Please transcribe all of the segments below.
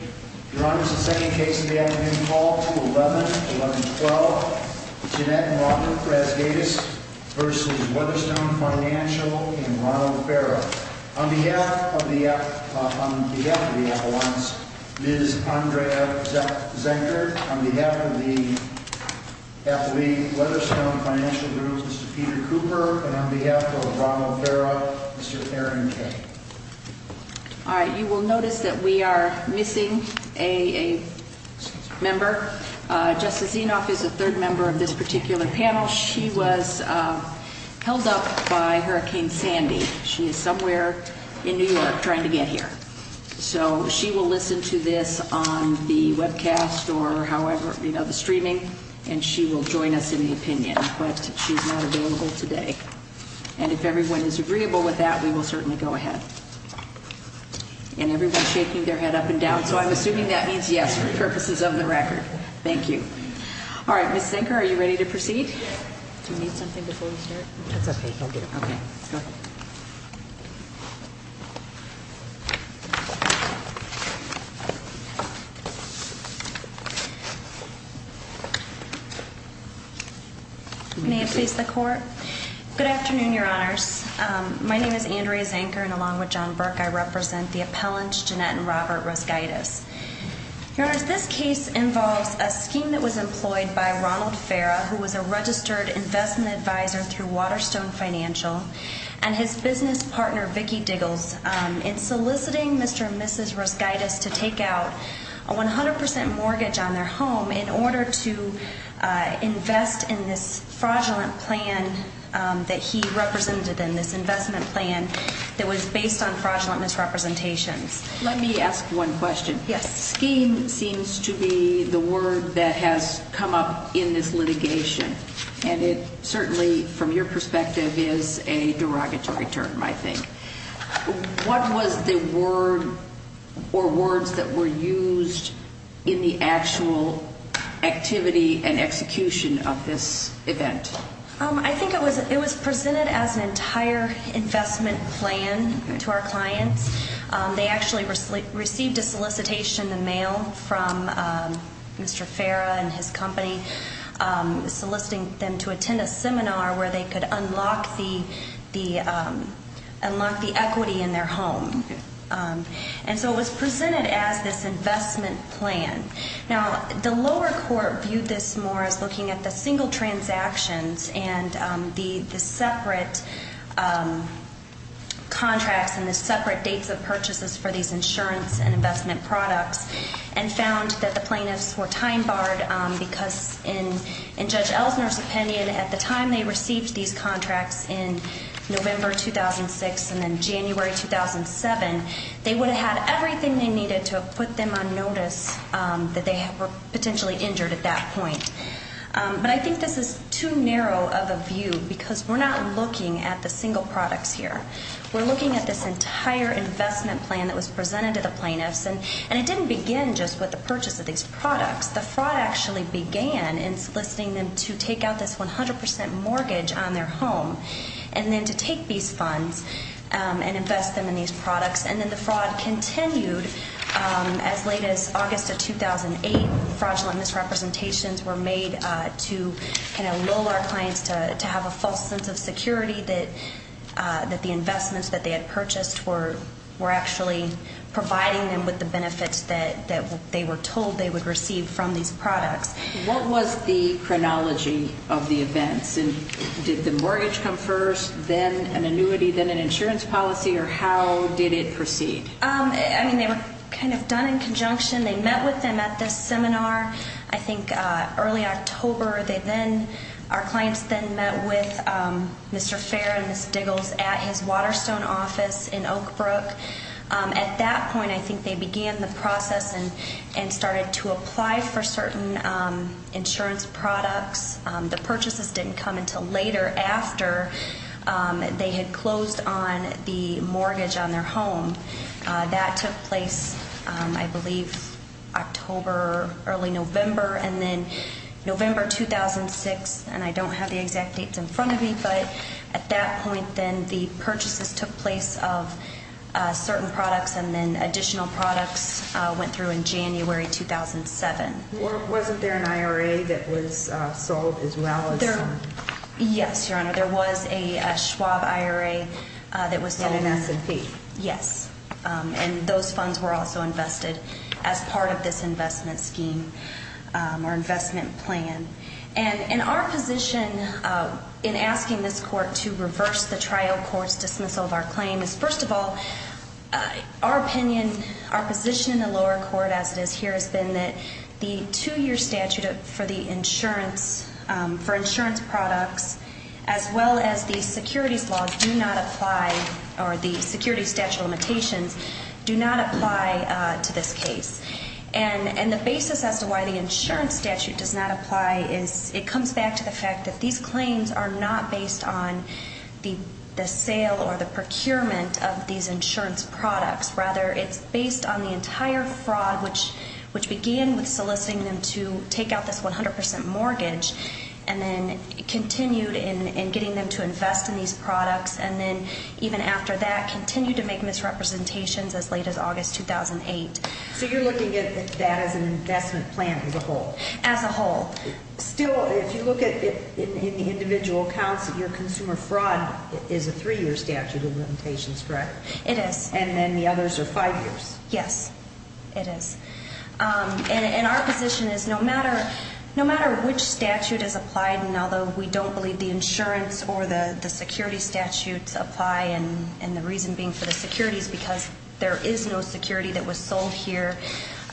Your Honor, this is the second case of the afternoon call to the 11th, July 12th. Jeanette and Robert Vazgaitis v. Waterstone Financial and Ronald Farrah. On behalf of the, uh, on behalf of the affidavits, Ms. Andrea Zack-Zanker. On behalf of the athlete, Waterstone Financial Group, Mr. Peter Cooper. And on behalf of Ronald Farrah, Mr. Karen Kaye. All right, you will notice that we are missing a, a member. Uh, Jessica Zenoff is the third member of this particular panel. She was, uh, held up by Hurricane Sandy. She is somewhere in New York trying to get here. So, she will listen to this on the webcast or however, you know, the streaming. And she will join us in the opinion. But she's not available today. And if everyone is agreeable with that, we will certainly go ahead. And everyone's shaking their head up and down. So, I'm assuming that means yes. Your purpose is on the record. Thank you. All right, Ms. Zanker, are you ready to proceed? Do you need something before we hear it? Okay, I'll get it. Okay. Go ahead. May I speak to the court? Good afternoon, Your Honors. Um, my name is Andrea Zanker. And along with John Burke, I represent the appellants, Jeanette and Robert Rosgaitis. Your Honors, this case involves a scheme that was employed by Ronald Farrah. Who was a registered investment advisor through Waterstone Financial. And his business partner, Vicki Diggles, is soliciting Mr. and Mrs. Rosgaitis to take out a 100% mortgage on their home. In order to invest in this fraudulent plan that he represented in this investment plan. That was based on fraudulent misrepresentation. Let me ask one question. Yes. Scheme seems to be the word that has come up in this litigation. And it certainly, from your perspective, is a derogatory term, I think. What was the word or words that were used in the actual activity and execution of this event? Um, I think it was presented as an entire investment plan to our client. Um, they actually received a solicitation in the mail from Mr. Farrah and his company. Um, soliciting them to attend a seminar where they could unlock the equity in their home. Um, and so it was presented as this investment plan. Now, the lower court viewed this more as looking at the single transactions. And the separate contracts and the separate dates of purchases for these insurance and investment products. And found that the plaintiffs were time barred, um, because in Judge Ellsworth's opinion, at the time they received these contracts in November 2006 and then January 2007, they would have had everything they needed to have put them on notice, um, that they were potentially injured at that point. Um, but I think this is too narrow of a view because we're not looking at the single products here. We're looking at this entire investment plan that was presented to the plaintiffs. And it didn't begin just with the purchase of these products. The fraud actually began in soliciting them to take out this 100% mortgage on their home. And then to take these funds, um, and invest them in these products. And then the fraud continued, um, as late as August of 2008. Fraudulent misrepresentations were made, uh, to, you know, lull our clients to have a false sense of security that, uh, that the investments that they had purchased were actually providing them with the benefits that they were told they would receive from these products. What was the chronology of the event? Did the mortgage come first, then an annuity, then an insurance policy? Or how did it proceed? Um, I mean, they were kind of done in conjunction. They met with them at this seminar, I think, uh, early October. They then, our clients then met with, um, Mr. Fair and Ms. Diggles at his Waterstone office in Oak Brook. Um, at that point, I think they began the process and started to apply for certain, um, insurance products. Um, the purchases didn't come until later after, um, they had closed on the mortgage on their home. Uh, that took place, um, I believe October, early November. And then November 2006, and I don't have the exact dates in front of me, but at that point, then the purchases took place of, uh, certain products and then additional products, uh, went through in January 2007. Wasn't there an IRA that was, uh, sold as well? Yes, Your Honor. There was a Schwab IRA, uh, that was... From the United States. Yes. Um, and those funds were also invested as part of this investment scheme, um, or investment plan. And, and our position, uh, in asking this court to reverse the trial for dismissal of our claim is, first of all, our opinion, our position in the lower court as it has here has been that the two-year statute for the insurance, um, for insurance products, as well as the security clause, do not apply, or the security statute limitations do not apply, uh, to this case. And, and the basis as to why the insurance statute does not apply is it comes back to the fact that these claims are not based on the, the sale or the procurement of these insurance products. Rather, it's based on the entire fraud, which, which began with soliciting them to take out this 100% mortgage and then continued in, in getting them to invest in these products and then even after that continued to make misrepresentations as late as August 2008. So you're looking at it as that as an investment plan as a whole. As a whole. Still, if you look at it in the individual accounts, your consumer fraud is a three-year statute, isn't it? It is. And then the others are five years. Yes, it is. Um, and, and our position is no matter, no matter which statute is applied, although we don't believe the insurance or the, the security statutes apply and, and the reason being for the security is because there is no security that was sold here.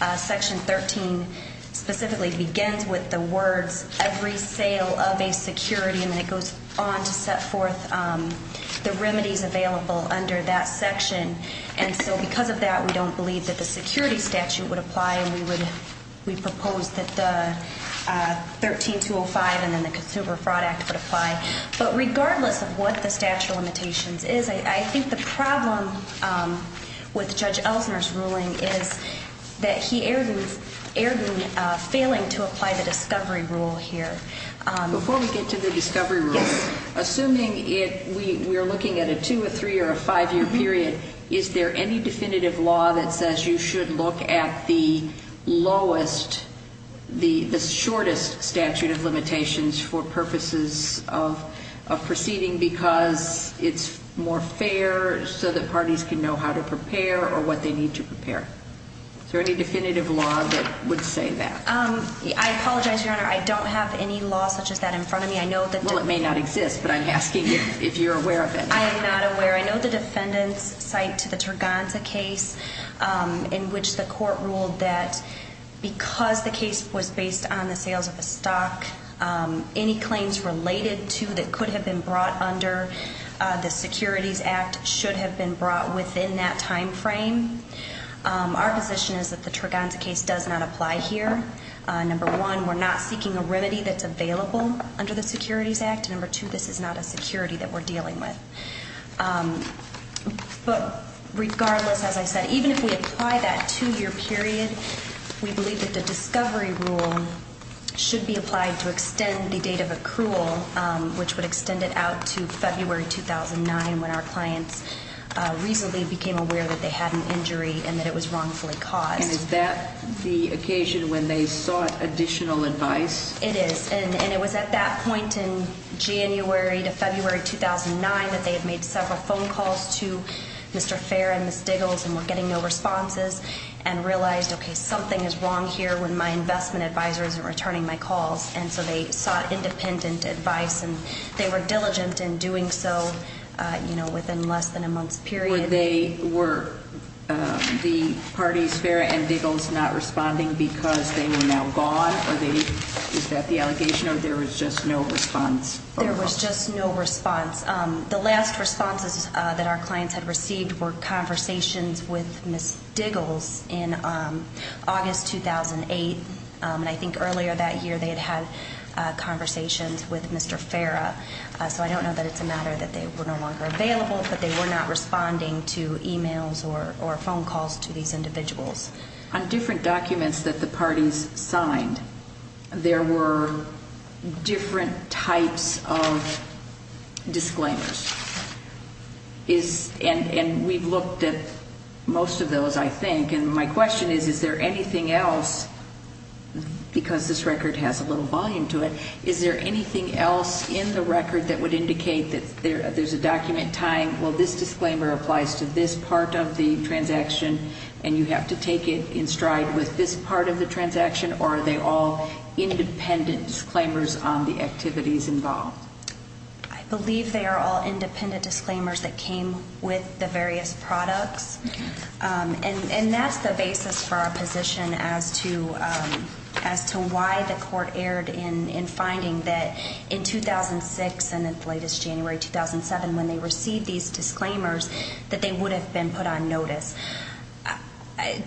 Uh, section 13 specifically begins with the word every sale of a security and it goes on to set forth, um, the remedies available under that section. And so because of that, we don't believe that the security statute would apply and we would, we propose that the 13-205 and then the consumer fraud act would apply. But regardless of what the statute of limitations is, I think the problem, um, with Judge Elkner's ruling is that he erred in, erred in failing to apply the discovery rule here. Before we get to the discovery rule, assuming it, we, we're looking at a two or three or a five-year period, is there any definitive law that says you should look at the lowest, the, the shortest statute of limitations for purposes of, of proceeding because it's more fair so the parties can know how to prepare or what they need to prepare. Is there any definitive law that would say that? Um, I apologize, Your Honor. I don't have any law such as that in front of me. I know that. Well, it may not exist, but I'm asking if you're aware of it. I am not aware. I know the defendants cite to the Turganza case, um, in which the court ruled that because the case was based on the sales of the stock, um, any claims related to that could have been brought under the Securities Act should have been brought within that timeframe. Um, our position is that the Turganza case does not apply here. Uh, number one, we're not seeking a remedy that's available under the Securities Act. Number two, this is not a security that we're dealing with. Um, but regardless, like I said, even if we apply that two-year period, we believe that the discovery rule should be applied to extend the date of accrual, um, which would extend it out to February 2009 when our clients, uh, recently became aware that they had an injury and that it was wrongfully caught. And is that the occasion when they sought additional advice? It is. And it was at that point in January to February 2009 that they had made several phone calls to Mr. Fair and Ms. Diggles and were getting no responses and realized, okay, something is wrong here when my investment advisor isn't returning my calls. And so they sought independent advice and they were diligent in doing so, uh, you know, within less than a month period. Were they, were, um, the parties there and Diggles not responding because they were now gone? Is that the allegation or there was just no response? There was just no response. Um, the last responses that our clients had received were conversations with Ms. Diggles in, um, August 2008. Um, and I think earlier that year they had had, uh, conversations with Mr. Farrah. Uh, so I don't know that it's a matter that they were no longer available, but they were not responding to emails or, or phone calls to these individuals. On different documents that the parties signed, there were different types of disclaimers. Is, and, and we looked at most of those I think, and my question is, is there anything else because this record has a little volume to it, is there anything else in the record that would indicate that there, there's a document tying, well this disclaimer applies to this part of the transaction and you have to make it in stride with this part of the transaction or are they all independent disclaimers on the activities involved? I believe they are all independent disclaimers that came with the various products. Um, and, and that's the basis for our position as to, um, as to why the court erred in finding that in 2006 and as late as January 2007, when they received these disclaimers that they would have been put on notice.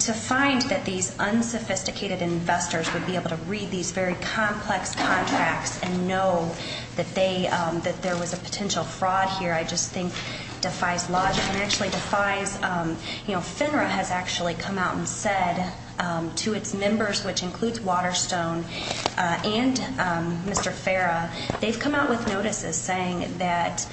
To find that these unsophisticated investors would be able to read these very complex contracts and know that they, um, that there was a potential fraud here, I just think defies logic and actually defies, um, you know, FINRA has actually come out and said, um, to its members, which includes Waterstone, uh, and, um, Mr. Farah, they've come out with notices saying that,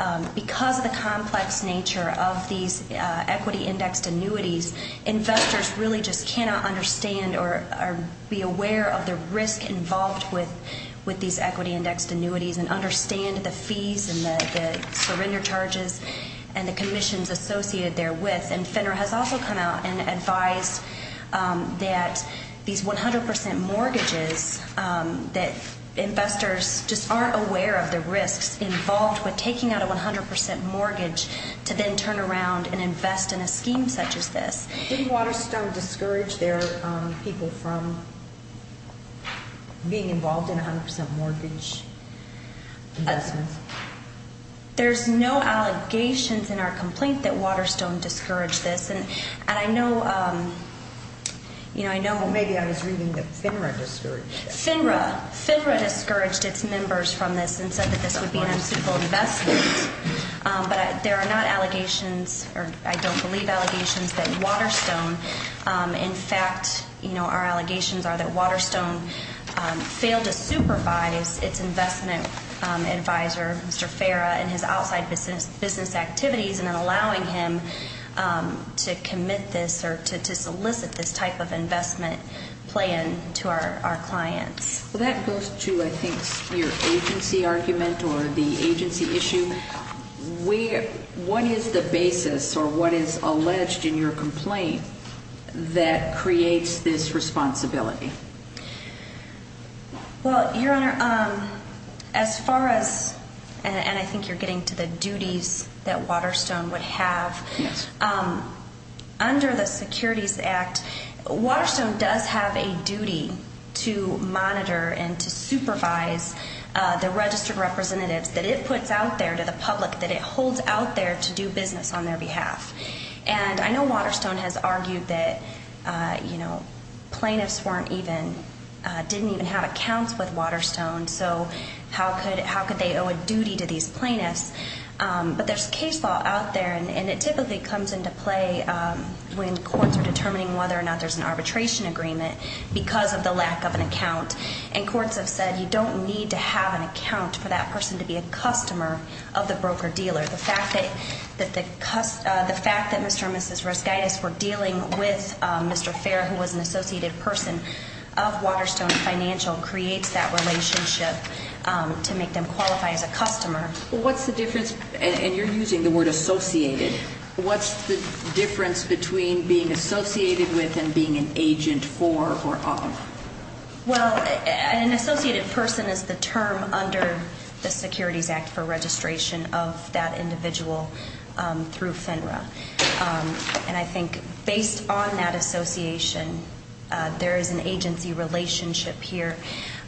um, because of the complex nature of these, uh, equity index annuities, investors really just cannot understand or, or be aware of the risk involved with, with these equity index annuities and understand the fees and the, the surrender charges and the commissions associated therewith. And FINRA has also come out and advised, um, that these 100% mortgages, um, that investors just aren't aware of the risks involved with taking out a 100% mortgage to then turn around and invest in a scheme such as this. Didn't Waterstone discourage their, um, people from being involved in a 100% mortgage? There's no allegations in our complaint that Waterstone discouraged this. And I know, um, you know, I know, but maybe I was reading that FINRA discouraged this. FINRA, FINRA discouraged its members from this and said that this would be an equitable investment. Um, but there are not allegations or I don't believe allegations that Waterstone, um, in fact, you know, our allegations are that Waterstone, um, failed to supervise its investment, um, advisor Mr. Farah and his outside business activities and then allowing him, um, to commit this or to, to solicit this type of investment plan to our, our client. So that goes to, I think your agency argument or the agency issue. We, what is the basis or what is alleged in your complaint that creates this responsibility? Well, your honor, um, as far as, and I think you're getting to the duties that Waterstone would have, um, under the securities act, Waterstone does have a duty to monitor and supervise, uh, the registered representatives that it puts out there to the public, that it holds out there to do business on their behalf. And I know Waterstone has argued that, uh, you know, plaintiffs weren't even, uh, didn't even have accounts with Waterstone. So how could, how could they owe a duty to these plaintiffs? Um, but there's case law out there and it typically comes into play, um, when courts are determining whether or not there's an arbitration agreement because of the lack of an account. And courts have said, you don't need to have an account for that person to be a customer of the broker dealer. The fact that, that the custom, uh, the fact that Mr. and Mrs. Rosaitis were dealing with, um, Mr. Fair, who was an associated person of Waterstone financial creates that relationship, um, to make them qualify as a customer. What's the difference? And you're using the word associated. What's the difference between being associated with and being an agent for or of? Well, an associated person is the term under the security back for registration of that individual, um, through FINRA. Um, and I think based on that association, uh, there is an agency relationship here.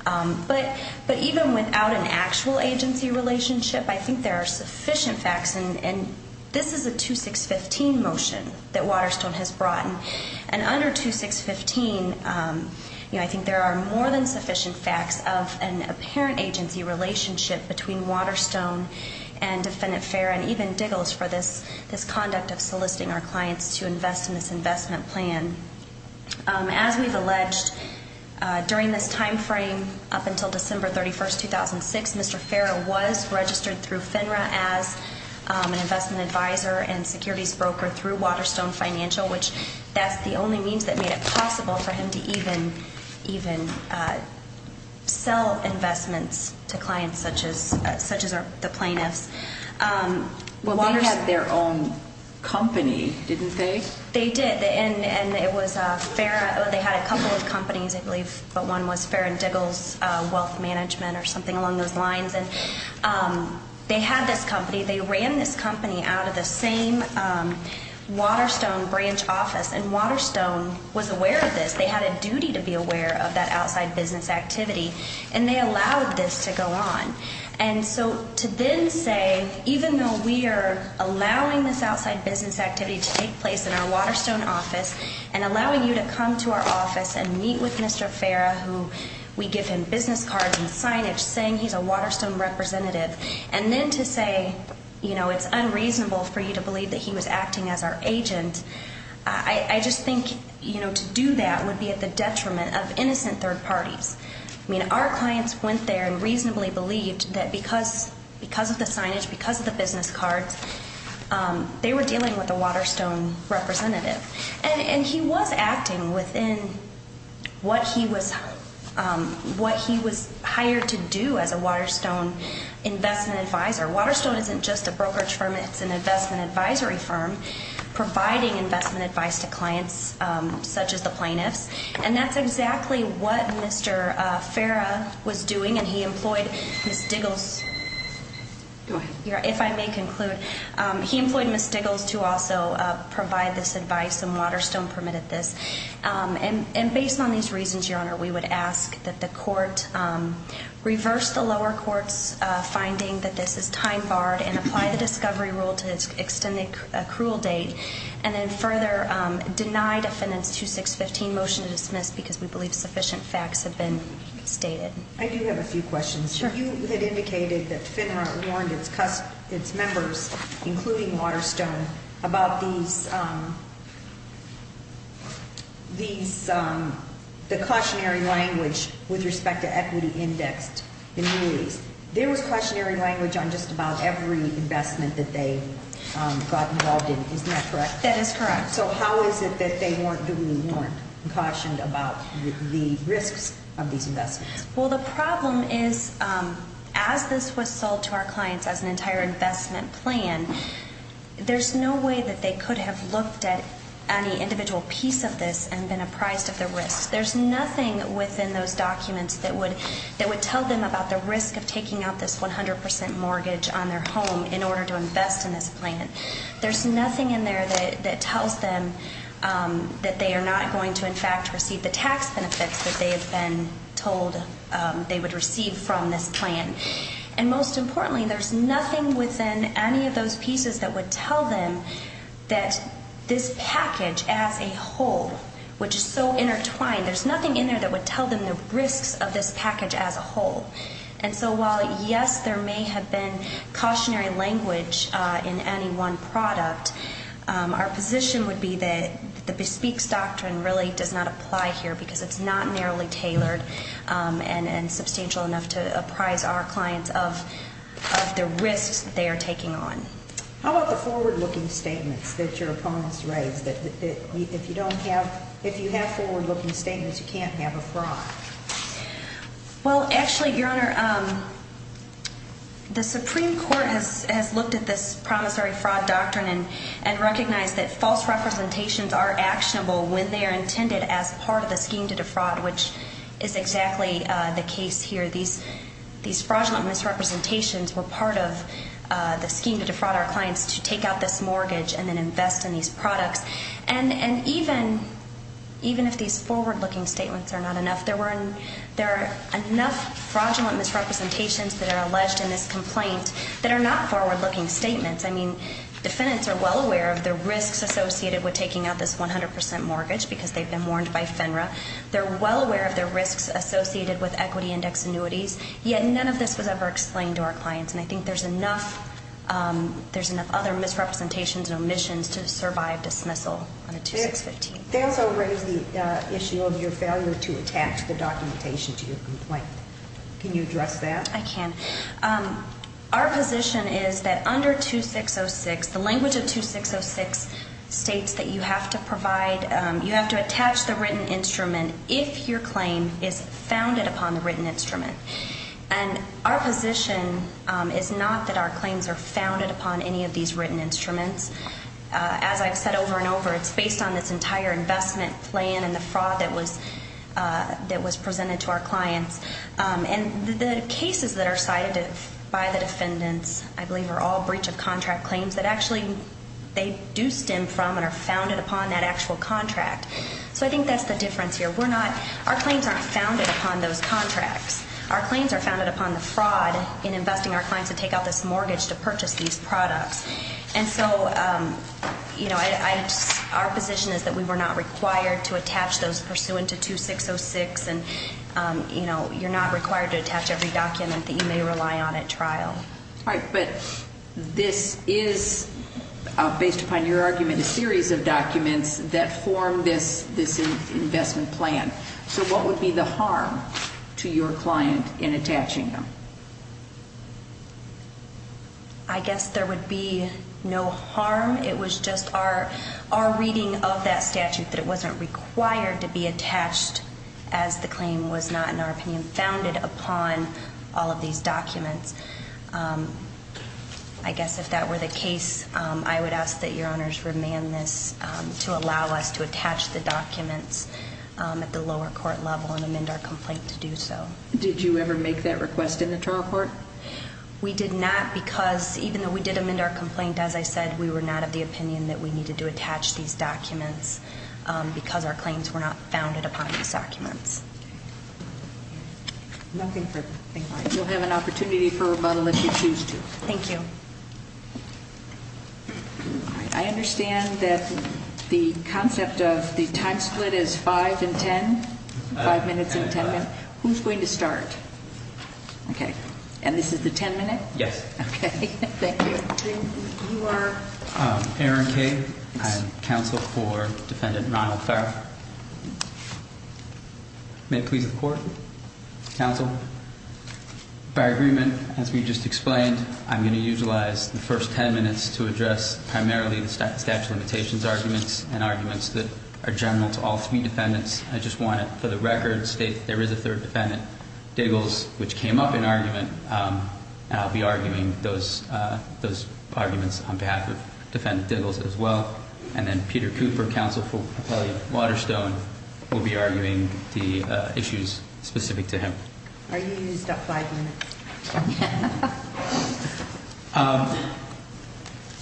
Um, but, but even without an actual agency relationship, I think there are sufficient facts. And, and this is a 2615 motion that Waterstone has brought in. And under 2615, um, you know, I think there are more than sufficient facts of an apparent agency relationship between Waterstone and defendant fair and even diggles for this, this conduct of soliciting our clients to invest in this investment plan. Um, as we've alleged, uh, during this timeframe up until December 31st, 2006, Mr. Fair, it was registered through FINRA as, um, an investment advisor and security broker through Waterstone financial, which that's the only means that made it possible for him to even, even, uh, sell investments to clients such as, uh, such as the plaintiff. Um, well, they have their own company, didn't they? They did. And, and it was a fair, they had a couple of companies, I believe, but one was fair and devil's, uh, wealth management or something along those lines. And, um, they had that company. They ran this company out of the same, um, Waterstone branch office and Waterstone was aware of this. They had a duty to be aware of that outside business activity and they allowed this to go on. And so to then say, even though we are allowing this outside business activity to take place in our Waterstone office and allowing you to come to our office and meet with Mr. Farah, who we give him business cards and signage saying he's a Waterstone representative. And then to say, you know, it's unreasonable for you to believe that he was acting as our agent. I, I just think, you know, to do that would be at the detriment of innocent third parties. I mean, our clients went there and reasonably believed that because, because of the signage, because of the business card, um, they were dealing with the Waterstone representative. And, and he was acting within what he was, um, what he was hired to do as a Waterstone investment advisor. Waterstone isn't just a brokerage firm, it's an investment advisory firm providing investment advice to clients, um, such as the plaintiff. And that's exactly what Mr. Farah was doing. And he employed Ms. Diggles. If I may conclude, um, he employed Ms. Diggles to also, uh, provide this advice and Waterstone permitted this. Um, and, and based on these reasons, Your Honor, we would ask that the court, um, reverse the lower court's, uh, finding that this is time barred and apply the discovery rule to extend a, a cruel date. And then further, um, deny the defendant's 2615 motion to dismiss because we believe sufficient facts have been stated. I do have a few questions. Sure. Um, you had indicated that FINRA warned its, its members, including Waterstone, about the, um, the, um, the cautionary language with respect to equity index. There was cautionary language on just about every investment that they, um, got involved in. Is that correct? That is correct. So how is it that they weren't given a warrant and cautioned about the, the risk of these investments? Well, the problem is, um, as this was sold to our clients as an entire investment plan, there's no way that they could have looked at any individual piece of this and been apprised of the risk. There's nothing within those documents that would, that would tell them about the risk of taking out this 100% mortgage on their home in order to invest in this plan. There's nothing in there that, that tells them, um, that they are not going to, in fact, receive the tax benefits that they have been told, um, they would receive from this plan. And most importantly, there's nothing within any of those pieces that would tell them that this package as a whole, which is so intertwined, there's nothing in there that would tell them the risk of this package as a whole. And so while, yes, there may have been cautionary language, uh, in any one product, um, our position would be that the bespeak doctrine really does not apply here because it's not narrowly tailored, um, and, and substantial enough to apprise our clients of the risk they are taking on. How about the forward looking statements that your opponents raised that, that, that if you don't have, if you have forward looking statements, you can't have a fraud. Well, actually, Your Honor, um, the Supreme Court has, has looked at the promissory fraud doctrine and, and recognize that false representations are actionable when they are intended as part of the scheme to defraud, which is exactly the case here. These, these fraudulent misrepresentations were part of, uh, the scheme to defraud our clients to take out this mortgage and then invest in these products. And, and even, even if these forward looking statements are not enough, there weren't, there are enough fraudulent misrepresentations that are alleged in this complaint that are not forward looking statements. I mean, defendants are well aware of the risks associated with taking out this 100% mortgage because they've been warned by FINRA. They're well aware of the risks associated with equity index annuities. Yet, none of this was ever explained to our clients. And I think there's enough, um, there's enough other misrepresentations and omissions to survive dismissal. I'm going to take 15. They also raised the, uh, issue of your failure to attach the documentation to your complaint. Can you address that? I can. Um, our position is that under 2606, the language of 2606 states that you have to provide, um, you have to attach the written instrument if your claim is founded upon the written instrument. And our position, um, is not that our claims are founded upon any of these written instruments. Uh, as I've said over and over, it's based on this entire investment plan and the fraud that was, uh, that was presented to our clients. Um, and the cases that are cited by the defendants, I believe are all breach of contract claims, but actually they do stem from and are founded upon that actual contract. So I think that's the difference here. We're not, our claims aren't founded upon those contracts. Our claims are founded upon the fraud in investing our clients to take out this mortgage to purchase these products. And so, um, you know, I, our position is that we were not required to attach those pursuant to 2606. And, um, you know, you're not required to attach every document that you may rely on at trial. Right. But this is, uh, based upon your argument, a series of documents that formed this, this investment plan. So what would be the harm to your client in attaching them? I guess there would be no harm. It was just our, our reading of that statute that it wasn't required to be attached as the opinion founded upon all of these documents. Um, I guess if that were the case, um, I would ask that your honors remand this, um, to allow us to attach the documents, um, at the lower court level and amend our complaint to do so. Did you ever make that request in the trial court? We did not because even though we did amend our complaint, as I said, um, because our claims were not founded upon these documents. Nothing further. We'll have an opportunity for rebuttal if you choose to. Thank you. I understand that the concept of the time split is five and ten, five minutes and ten minutes. Who's going to start? Okay. And this is the ten minute? Yes. Okay. Thank you. You are? Um, Aaron Gay. I'm counsel for defendant, Ronald Clark. May it please the court? Counsel. By agreement, as we just explained, I'm going to utilize the first ten minutes to address primarily the statute of limitations arguments and arguments that are general to all three defendants. I just want to, for the record, state there is a third defendant, Diggles, which came up in argument. Um, I'll be arguing those, uh, those arguments on behalf of defendant Diggles as well. And then Peter Cooper, counsel for Waterstone, will be arguing the, uh, issues specific to him. Are you going to use that slide again? Okay. Um,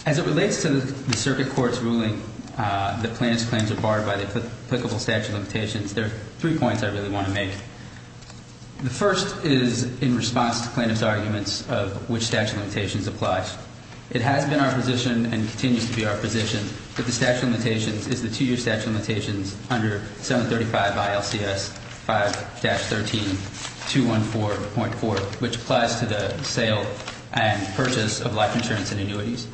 as it relates to the circuit court's ruling, uh, that plaintiff's claims are barred by the applicable statute of limitations, there's three points I really want to make. The first is in response to plaintiff's arguments of which statute of limitations applies. It has been our position and continues to be our position that the statute of limitations, that the two-year statute of limitations under 735 ILCS 5-13 214.4, which applies to the sale and purchase of life insurance and insurance,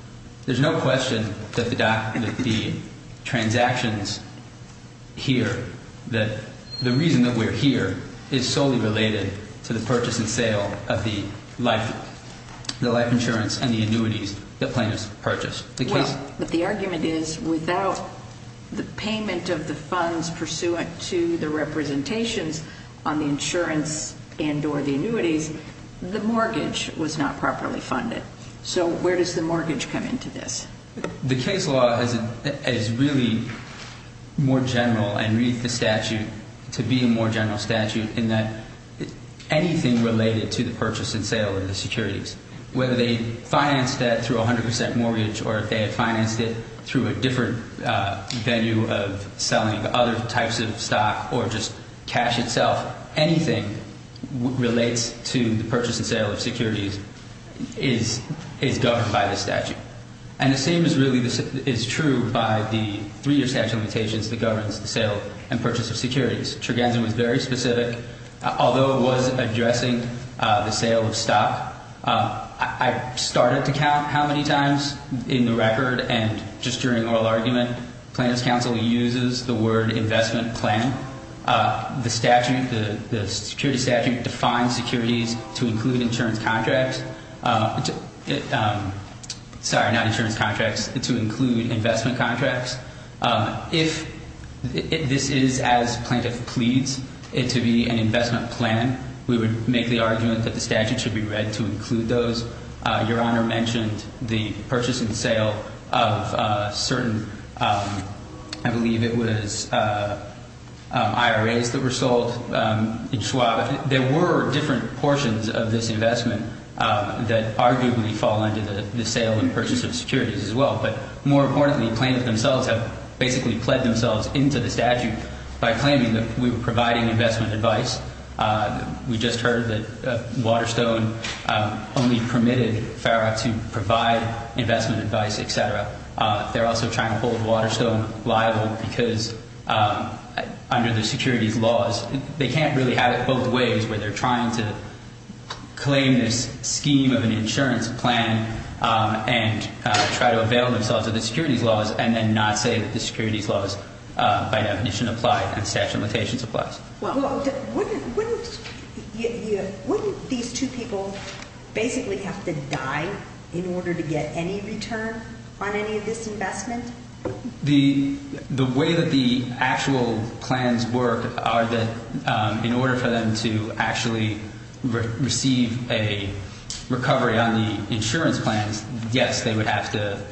there's no question that the transactions here, that the reason that we're here is solely related to the purchase and sale of the life, the life insurance and the annuities the plaintiff purchased. Well, but the argument is without the payment of the funds pursuant to the representations on the insurance and or the annuities, the mortgage was not properly funded. So where does the mortgage come into this? The case law is, is really more general and reads the statute to be a more general statute in that anything related to the purchase and sale of the security whether they finance that through 100% mortgage or if they had financed it through a different venue of selling other types of stock or just cash itself, anything relates to the purchase and sale of securities is governed by the statute. And the same is really true by the three-year statute of limitations that governs the sale and purchase of securities. The case law is very specific. Although it wasn't addressing the sale of stock, I started to count how many times in the record and just during oral argument, Plaintiff's counsel uses the word investment planning. The statute, the security statute defines securities to include insurance contracts. Sorry, not insurance contracts, to include investment contracts. If this is as Plaintiff pleads it to be an investment plan, we would make the argument that the statute should be read to include those. Your Honor mentioned the purchase and sale of certain, I believe it was IRAs that were sold. There were different portions of this investment that arguably fall into the sale and purchase of securities as well. But more importantly, the plaintiffs themselves have basically fled themselves into the statute by claiming that we were providing investment advice. We just heard that Waterstone only permitted FARA to provide investment advice, et cetera. They're also trying to hold Waterstone liable because under the security laws, they can't really have it both ways where they're trying to claim a scheme of an insurance plan and try to avail themselves of the security laws and then not say that the security laws by definition apply and the statute of limitations applies. Wouldn't these two people basically have to die in order to get any return on any of this investment? The way that the actual plans work are that in order for them to actually receive a recovery on the insurance plan, yes, they would have to.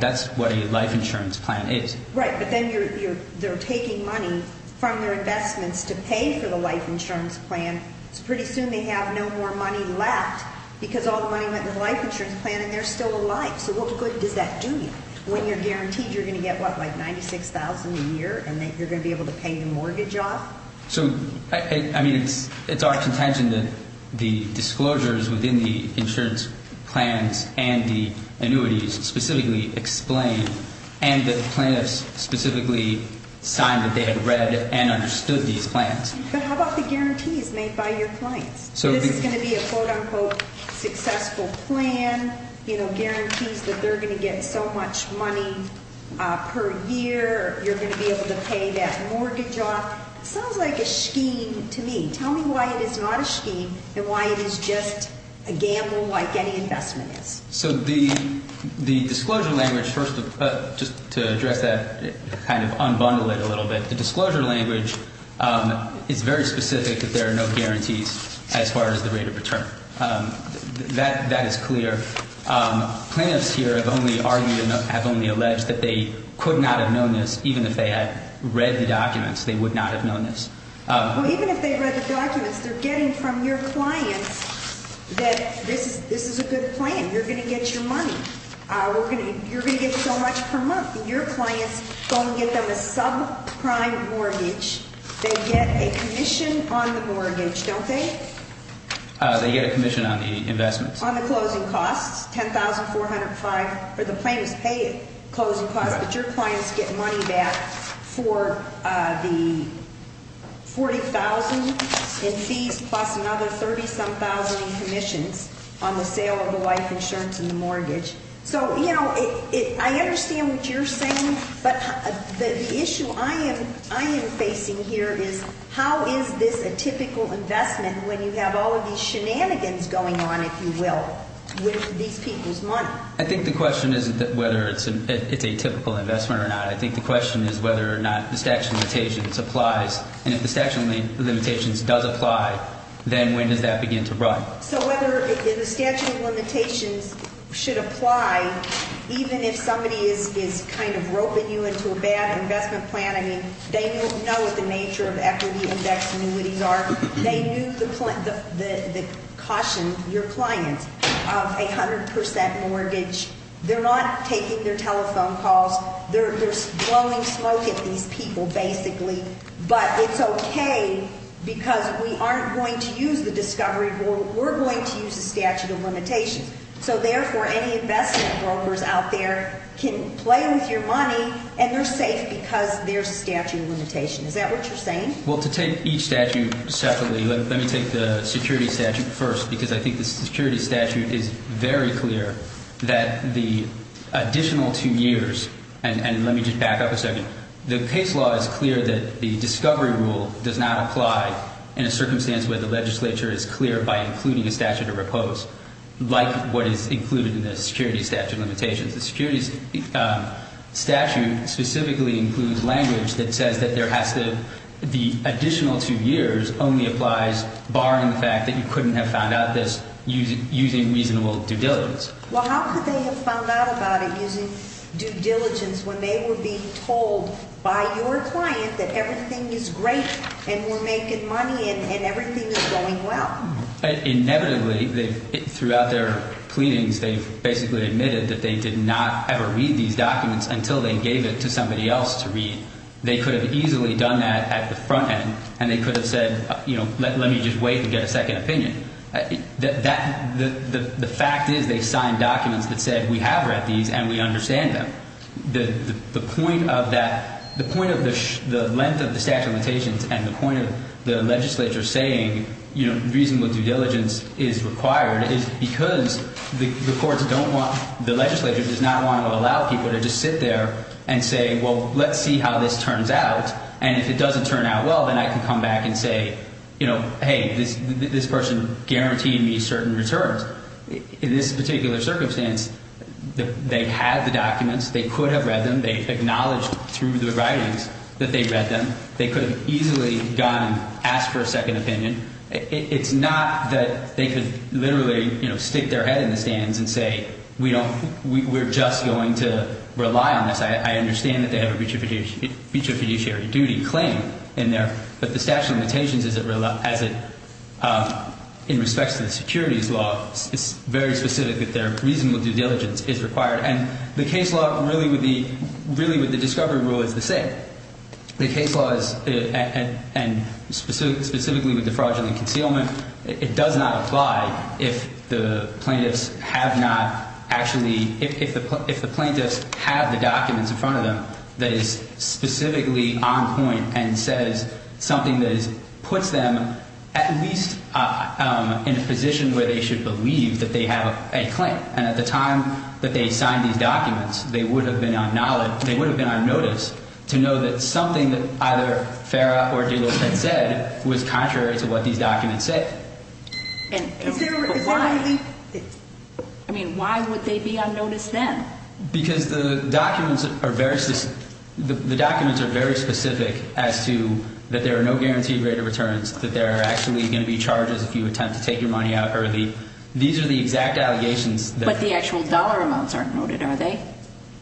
That's what a life insurance plan is. Right, but then they're taking money from their investments to pay for the life insurance plan. Pretty soon they have no more money left because all the money went to the life insurance plan and they're still alive. So what good does that do you when you're guaranteed you're going to get, what, like $96,000 a year and that you're going to be able to pay your mortgage off? So, I mean, it's our contention that the disclosures within the insurance plans and the annuities specifically explain and the plans specifically sign that they have read and understood these plans. But how about the guarantees made by your clients? This is going to be a quote-unquote successful plan. You know, guarantees that they're going to get so much money per year. You're going to be able to pay that mortgage off. Sounds like a scheme to me. Tell me why it is not a scheme and why it is just a gamble like any investment is. So the disclosure language, first, to address that, kind of unbundle it a little bit, the disclosure language is very specific that there are no guarantees as far as the rate of return. That is clear. Plaintiffs here have only argued and have only alleged that they could not have known this even if they had read the documents. They would not have known this. Well, even if they read the documents, you're getting from your clients that this is a good plan. You're going to get your money. You're going to get so much per month. Your clients are going to get them a subprime mortgage. They get a commission on the mortgage, don't they? They get a commission on the investment. On the closing cost, $10,400. The plaintiff pays the closing cost, but your clients get money back for the $40,000 in fees plus another $30,000 in commission on the sale of the life insurance and the mortgage. I understand what you're saying, but the issue I am facing here is how is this a typical investment when you have all of these shenanigans going on, if you will, with these people's money? I think the question isn't whether it's a typical investment or not. I think the question is whether or not the statute of limitations applies. If the statute of limitations does apply, then when does that begin to run? Whether the statute of limitations should apply, even if somebody is kind of rolling you into a bad investment plan, they know what the nature of equity and debt communities are. They use the caution, your clients, of a 100% mortgage. They're not taking their telephone calls. They're blowing smoke at these people, basically. But it's okay because we aren't going to use the discovery board. We're going to use the statute of limitations. So, therefore, any investment brokers out there can play with your money, and they're safe because there's a statute of limitations. Is that what you're saying? Well, to take each statute separately, let me take the security statute first because I think the security statute is very clear that the additional two years and let me just back up a second. The case law is clear that the discovery rule does not apply in a circumstance where the legislature is clear by including a statute of repose like what is included in the security statute of limitations. The security statute specifically includes language that says that there has to be additional two years only applies, barring the fact that you couldn't have found out this using reasonable due diligence. Well, how could they have found out about it using due diligence when they were being told by your client that everything is great and we're making money and everything is going well? Inevitably, throughout their pleadings, they basically admitted that they did not ever read these documents until they gave it to somebody else to read. They could have easily done that at the front end, and they could have said, you know, let me just wait to get a second opinion. The fact is they signed documents that said we have read these and we understand them. The point of the length of the statute of limitations and the point of the legislature saying, you know, reasonable due diligence is required is because the courts don't want, the legislature does not want to allow people to just sit there and say, well, let's see how this turns out, and if it doesn't turn out well, then I can come back and say, you know, hey, this person guaranteed me certain returns. In this particular circumstance, they had the documents. They could have read them. They acknowledged through the writings that they read them. They could have easily gone and asked for a second opinion. It's not that they could literally, you know, stick their head in the sand and say, we don't, we're just going to rely on this. I understand that they have a breach of fiduciary duty claim in there, but the statute of limitations in respect to the securities law, it's very specific that reasonable due diligence is required, and the case law really would be, really the discovery rule is the same. The case law is, and specifically with the fraudulent concealment, it does not apply if the plaintiffs have not actually, if the plaintiffs have the documents in front of them that is specifically on point and says something that has put them at least in a position where they should believe that they have a claim, and at the time that they signed these documents, they would have been on notice to know that something that either FARA or DOJ had said was contrary to what these documents said. And why would they be on notice then? Because the documents are very specific as to that there are no guaranteed rate of returns, that there are actually going to be charges if you attempt to take your money out early. These are the exact allegations. But the actual dollar amounts are noted, are they?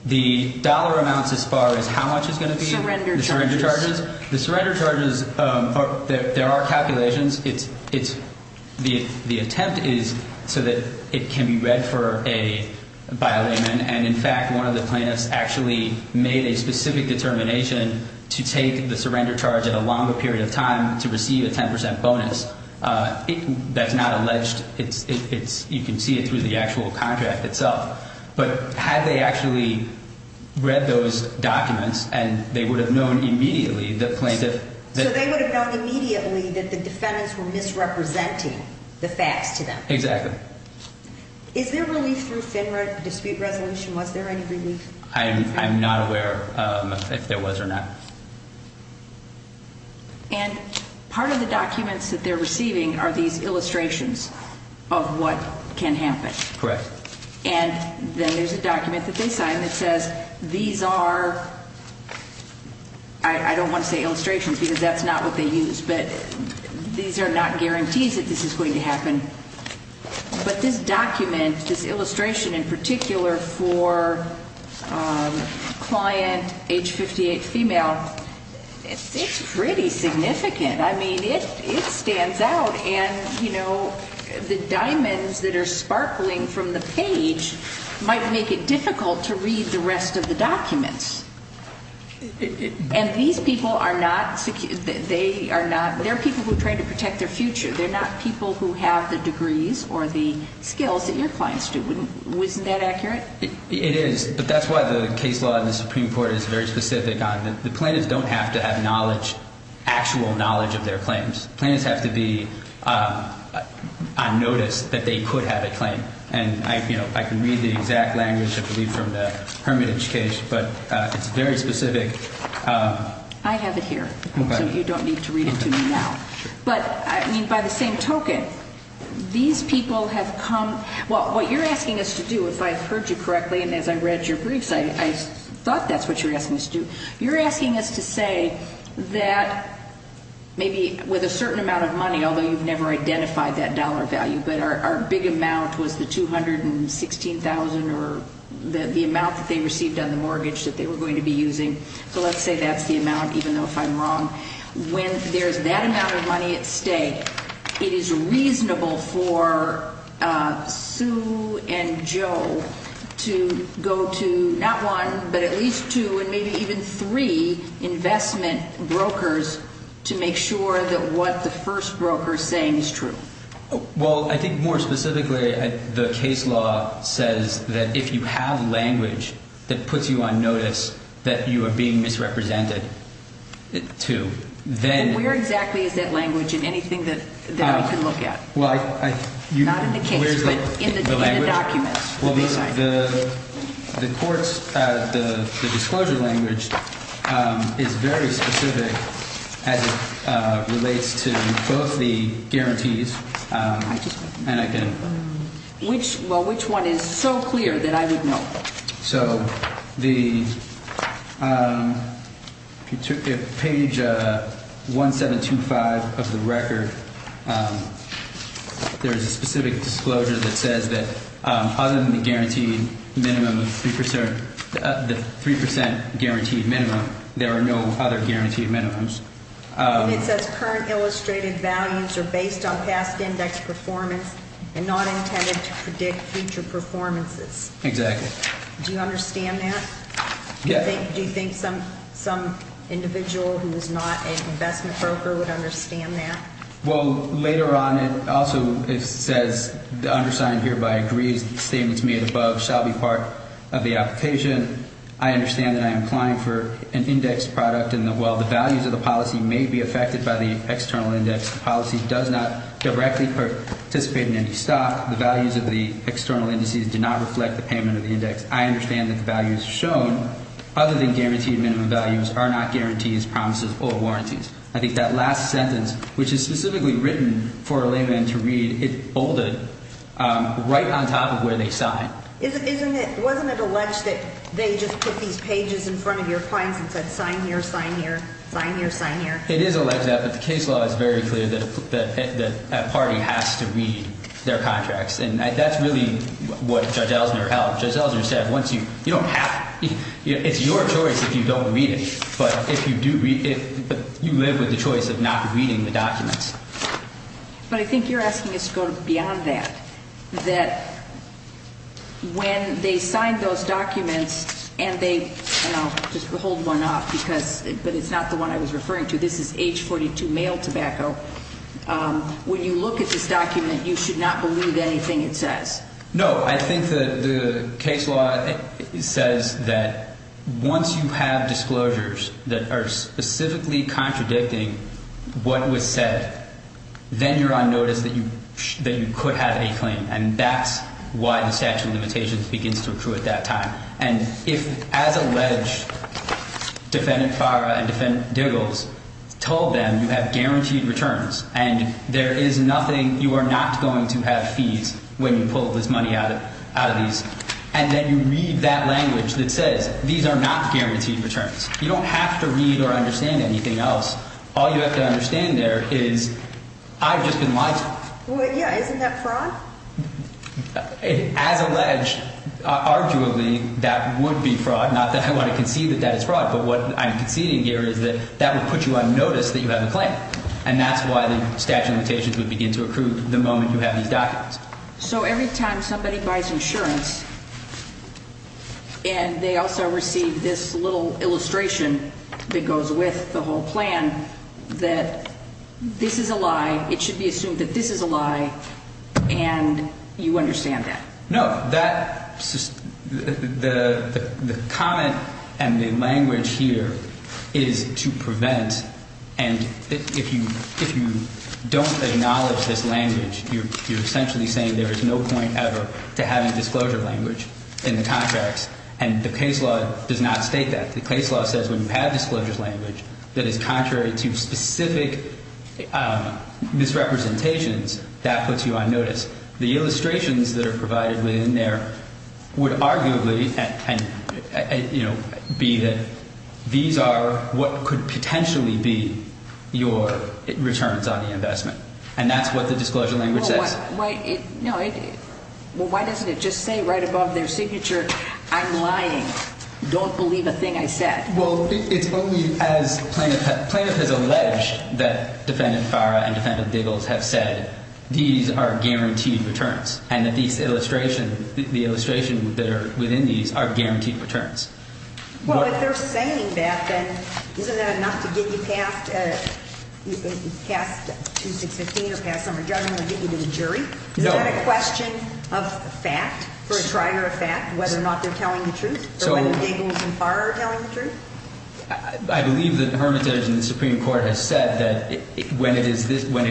The dollar amounts as far as how much it's going to be? Surrender charges. The surrender charges, there are calculations. The attempt is so that it can be read for a, by a layman, and, in fact, one of the plaintiffs actually made a specific determination to take the surrender charge at a longer period of time to receive a 10% bonus. That's not alleged. You can see it through the actual contract itself. But had they actually read those documents and they would have known immediately that the plaintiffs So they would have known immediately that the defendants were misrepresenting the fact to them. Exactly. Is there relief through state dispute resolution? Was there any relief? I'm not aware if there was or not. And part of the documents that they're receiving are these illustrations of what can happen. Correct. And then there's a document that they sign that says, These are, I don't want to say illustrations because that's not what they use, but these are not guarantees that this is going to happen. But this document, this illustration in particular for client, age 58, female, it's pretty significant. I mean, it stands out. And, you know, the diamonds that are sparkling from the page might make it difficult to read the rest of the documents. And these people are not, they are people who try to protect their future. They're not people who have the degrees or the skills that your clients do. Isn't that accurate? It is, but that's why the case law in the Supreme Court is very specific on it. The plaintiffs don't have to have knowledge, actual knowledge of their claims. The plaintiffs have to be on notice that they could have a claim. And, you know, I can read the exact language, I believe, from the Hermitage case, but it's very specific. I have it here, so you don't need to read it to me now. But, I mean, by the same token, these people have come, well, what you're asking us to do, if I've heard you correctly, and as I read your brief, I thought that's what you're asking us to do, you're asking us to say that maybe with a certain amount of money, although you've never identified that dollar value, but our big amount was the $216,000 or the amount that they received on the mortgage that they were going to be using. So let's say that's the amount, even though if I'm wrong. When there's that amount of money at stake, it is reasonable for Sue and Joe to go to not one, but at least two, or maybe even three investment brokers to make sure that what the first broker is saying is true. Well, I think more specifically, the case law says that if you have language that puts you on notice that you are being misrepresented to then. And where exactly is that language in anything that we can look at? Not in the case, but in the document. Well, the court's disclosure language is very specific as it relates to both the guarantees and again... Well, which one is so clear that I didn't know? So the page 1725 of the record, there's a specific disclosure that says that other than the 3% guaranteed minimum, there are no other guaranteed minimums. It says current illustrated values are based on past index performance and not intended to predict future performances. Exactly. Do you understand that? Yes. Do you think some individual who's not an investment broker would understand that? Well, later on it also says, the undersigned hereby agrees that the statements made above shall be part of the application. I understand that I am applying for an index product and that while the values of the policy may be affected by the external index policy does not directly participate in any stock, the values of the external indices do not reflect the payment of the index. I understand that the values shown, other than guaranteed minimum values, are not guarantees, promises, or warranties. I think that last sentence, which is specifically written for a layman to read, it's bolded right on top of where they sign. Wasn't it alleged that they just put these pages in front of your clients and said, sign here, sign here, sign here, sign here? It is alleged that, but the case law is very clear that a party has to read their contracts, and that's really what Judge Ellinger held. Judge Ellinger said, once you, you don't have, it's your choice if you don't read it, but if you do read it, you live with the choice of not reading the documents. But I think you're asking us to go beyond that, that when they sign those documents and they, and I'll just hold one up because, but it's not the one I was referring to. This is H-42 male tobacco. When you look at this document, you should not believe anything it says. No, I think the case law says that once you have disclosures that are specifically contradicting what was said, then you're on notice that you could have a claim, and that's why the statute of limitations begins to recruit at that time. And if, as alleged, defendant Farah and defendant Giggles told them, you have guaranteed returns and there is nothing, you are not going to have fees when you pull this money out of these. And then you read that language that says these are not guaranteed returns. You don't have to read or understand anything else. All you have to understand there is I just didn't like it. Well, yeah, isn't that fraud? As alleged, arguably, that would be fraud. Not that I want to concede that that is fraud, but what I'm conceding here is that that would put you on notice that you have a claim, and that's why the statute of limitations would begin to recruit the moment you have these documents. So every time somebody buys insurance and they also receive this little illustration that goes with the whole plan, that this is a lie, it should be assumed that this is a lie, and you understand that. No, the comment and the language here is to prevent and if you don't acknowledge this language, you're essentially saying there is no point ever to having disclosure language in the contracts, and the case law does not state that. The case law says when you have disclosure language that is contrary to specific misrepresentations, that puts you on notice. The illustrations that are provided within there would arguably, you know, be that these are what could potentially be your returns on the investment, and that's what the disclosure language says. Well, why doesn't it just say right above their signature, I'm lying, don't believe a thing I said? Well, it's only as plaintiff has alleged that defendant Farah and defendant Biggles have said, these are guaranteed returns, and these illustrations, the illustrations that are within these are guaranteed returns. Well, if they're saying that, then isn't that enough to get you passed, to get you to the jury? No. Is that a question of fact, whether or not they're telling the truth, or whether they're telling the truth? I believe that the Supreme Court has said that when it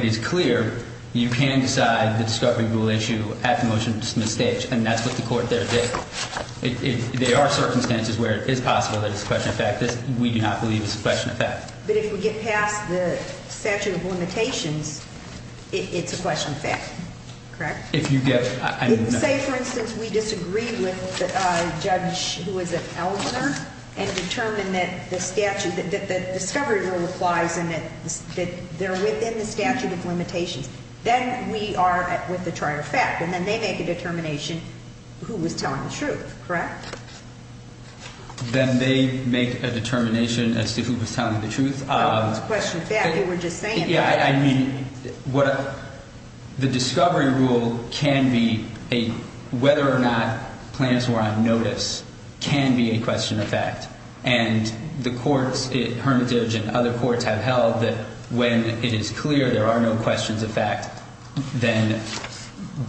is clear, you can decide the discovery rule issue at the motion of dismissal stage, and that's what the court there did. There are circumstances where it is possible that it's a question of fact, that we do not believe it's a question of fact. But if we get passed the statute of limitations, it's a question of fact, correct? If you get it. Say, for instance, we disagree with a judge who is a counselor, and determine that the statute, that the discovery rule applies, and determine that they're within the statute of limitations, then we are with a charge of fact, and then they make a determination as to who was telling the truth, correct? Then they make a determination as to who was telling the truth. It's a question of fact. We were just saying that. Yeah, I mean, the discovery rule can be a, whether or not plans were on notice, can be a question of fact. And the courts, Hermitage and other courts, have held that when it is clear there are no questions of fact, then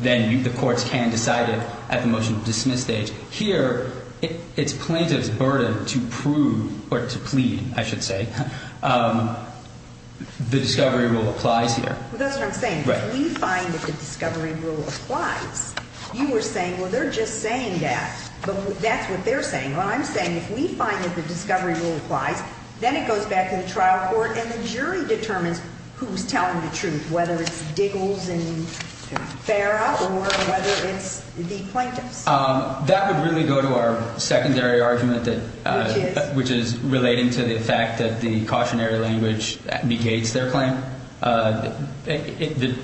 the courts can decide it at the motion of dismissal stage. Here, it's plaintiff's burden to prove, or to plead, I should say, the discovery rule applies here. That's what I'm saying. If we find that the discovery rule applies, you were saying, well, they're just saying that. That's what they're saying. I'm saying if we find that the discovery rule applies, then it goes back to the trial court, and the jury determines who's telling the truth, whether it's Diggles and Farrell or whether it's the plaintiff. That would really go to our secondary argument, which is related to the fact that the cautionary language negates their claim. The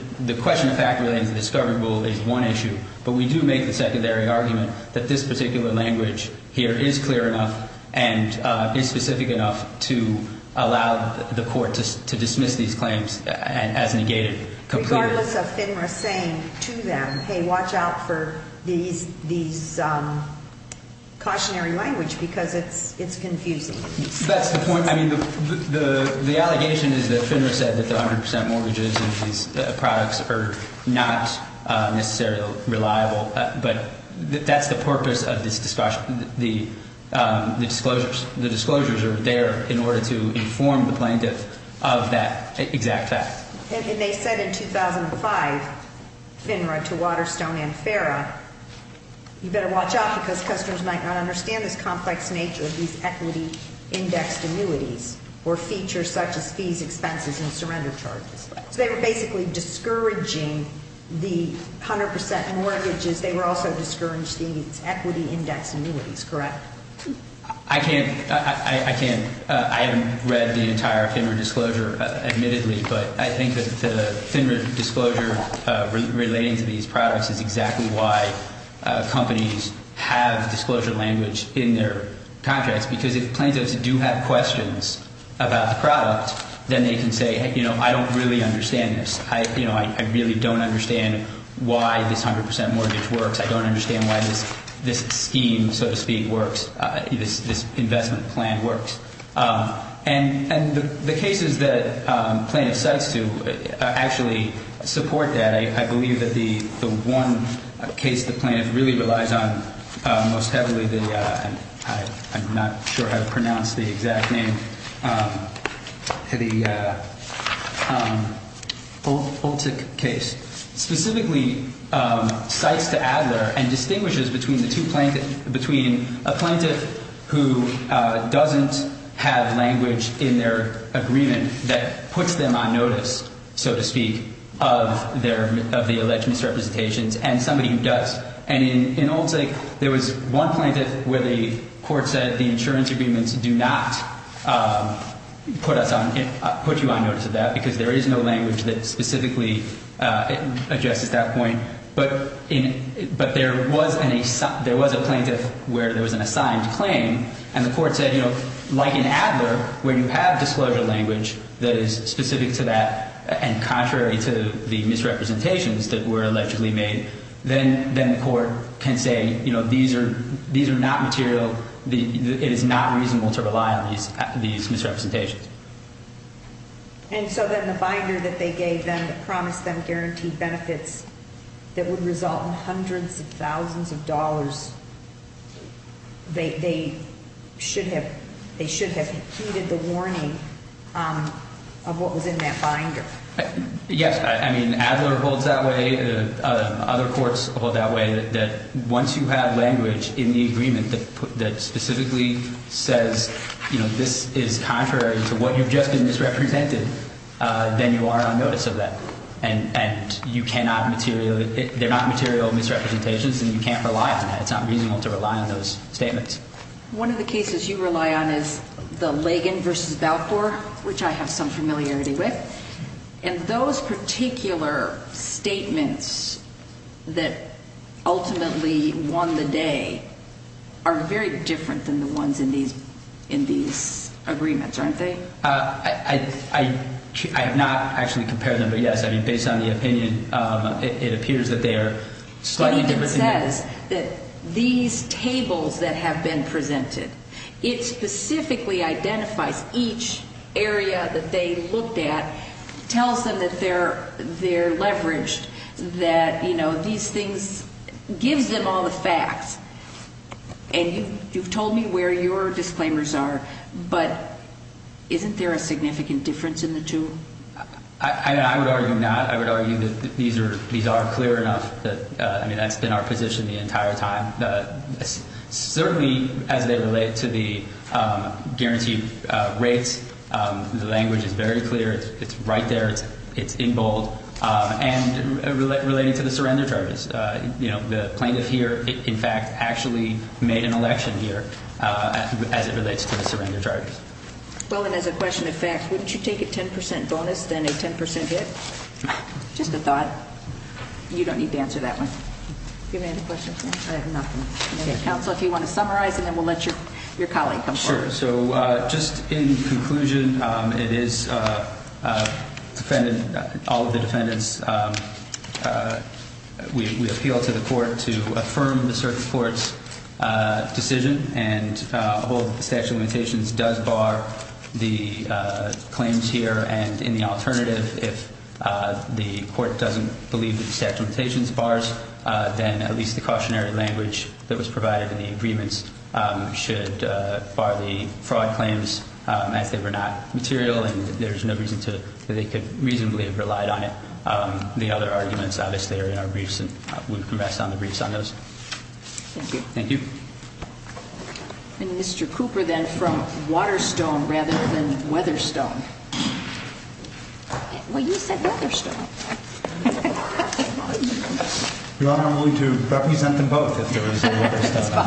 question of fact related to the discovery rule is one issue, but we do make the secondary argument that this particular language here is clear enough and is specific enough to allow the court to dismiss these claims as negated. Regardless of FINRA saying to them, hey, watch out for these cautionary language because it's confusing. The allegation is that FINRA said that the 100% mortgages of these products are not necessarily reliable, but that's the purpose of the disclosures. The disclosures are there in order to inform the plaintiffs of that exact fact. They said in 2005, FINRA to Waterstone and Farrell, you better watch out because customers might not understand the complex nature of these equity index annuities or features such as fees, expenses, and surrender charges. They were basically discouraging the 100% mortgages. They were also discouraging equity index annuities, correct? I haven't read the entire FINRA disclosure, admittedly, but I think that the FINRA disclosure relating to these products is exactly why companies have the disclosure language in their contracts because if plaintiffs do have questions about the products, then they can say, hey, I don't really understand this. I really don't understand why this 100% mortgage works. I don't understand why this scheme, so to speak, works, this investment plan works. And the cases that plaintiffs do actually support that. I believe that the one case the plaintiff really relies on most heavily, I'm not sure how to pronounce the exact name, the Olcic case, specifically cites the ad litter and distinguishes between a plaintiff who doesn't have language in their agreement that puts them on notice, so to speak, of the election certifications and somebody who does. And in Olcic, there was one plaintiff where the court said the insurance agreements do not put you on notice of that because there is no language that specifically objects at that point. But there was a plaintiff where there was an assigned claim, and the court said, you know, like in ad litter, where you have disclosure language that is specific to that and contrary to the misrepresentations that were allegedly made, then the court can say, you know, these are not material, it is not reasonable to rely on these misrepresentations. And so then the binder that they gave them that promised them guaranteed benefits that would result in hundreds of thousands of dollars, they should have heeded the warning of what was in that binder. Yes, I mean, ad litter holds that way, other courts hold that way, that once you have language in the agreement that specifically says, you know, this is contrary to what you've just misrepresented, then you are on notice of that. And you cannot material, they're not material misrepresentations, and you can't rely on that. It's not reasonable to rely on those statements. One of the cases you rely on is the Lagan versus Balfour, which I have some familiarity with. And those particular statements that ultimately won the day are very different than the ones in these agreements, aren't they? I have not actually compared them, but yes, I mean, based on the opinion, it appears that they are slightly different. It says that these tables that have been presented, it specifically identifies each area that they looked at, tells them that they're leveraged, that, you know, these things, gives them all the facts. And you've told me where your disclaimers are, but isn't there a significant difference in the two? I would argue not. I would argue that these are clear enough that, I mean, that's been our position the entire time. Certainly, as it relates to the guaranteed rates, the language is very clear. It's right there. It's in bold. And relating to the surrender charges, you know, the plaintiff here, in fact, actually made an election here as it relates to the surrender charges. Well, and then the question is back. Wouldn't you take a 10% bonus than a 10% dip? Just a thought. You don't need to answer that one. Do you have any other questions? I have nothing. Okay, counsel, if you want to summarize, and then we'll let your colleague come forward. Sure. So, just in conclusion, it is all of the defendants. We appeal to the court to affirm the certain court's decision, and although the statute of limitations does bar the claims here, and in the alternative, if the court doesn't believe the statute of limitations bars, then at least the cautionary language that was provided in the agreements should bar the fraud claims, as they were not material, and there's no reason that they could reasonably have relied on it. The other arguments, obviously, are in our briefs, Thank you. Thank you. And Mr. Cooper, then, from Waterstone rather than Weatherstone. Well, you said Weatherstone. Your Honor, I'm willing to represent them both if there is any other discussion.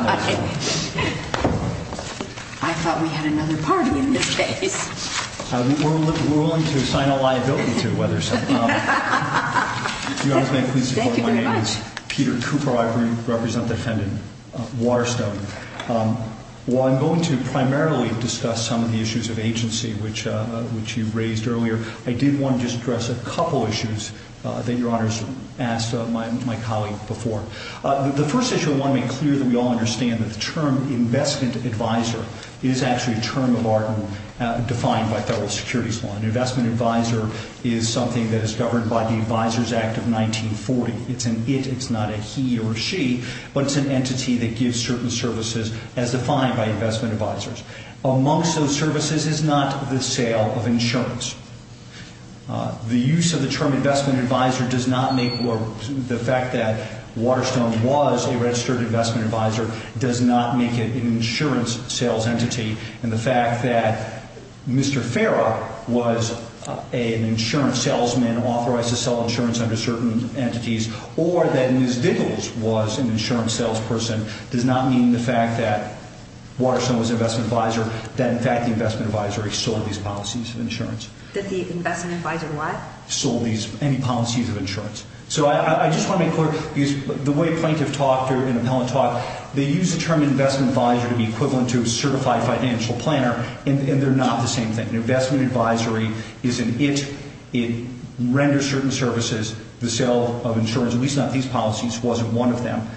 I thought we had another partner in this case. We're willing to assign a liability to Weatherstone. Your Honor, thank you. Thank you very much. My name is Peter Cooper. I represent the defendant, Waterstone. While I'm going to primarily discuss some of the issues of agency, which you raised earlier, I did want to just address a couple of issues that Your Honor has asked my colleague before. The first issue I want to make clear that we all understand, the term investment advisor is actually a term of argument defined by federal securities law. An investment advisor is something that is governed by the Advisors Act of 1940. It's an it, it's not a he or she, but it's an entity that gives certain services as defined by investment advisors. Amongst those services is not the sale of insurance. The use of the term investment advisor does not make, the fact that Waterstone was a registered investment advisor, does not make it an insurance sales entity. And the fact that Mr. Ferrer was an insurance salesman and authorized to sell insurance under certain entities, or that Ms. Vigils was an insurance salesperson, does not mean the fact that Waterstone was an investment advisor, that in fact the investment advisor sold these policies of insurance. That the investment advisor what? Sold these policies of insurance. So I just want to make clear, the way plaintiffs talk here in appellate talk, they use the term investment advisor to be equivalent to a certified financial planner, and they're not the same thing. An investment advisory is an it, it renders certain services, the sale of insurance, at least not these policies, wasn't one of them.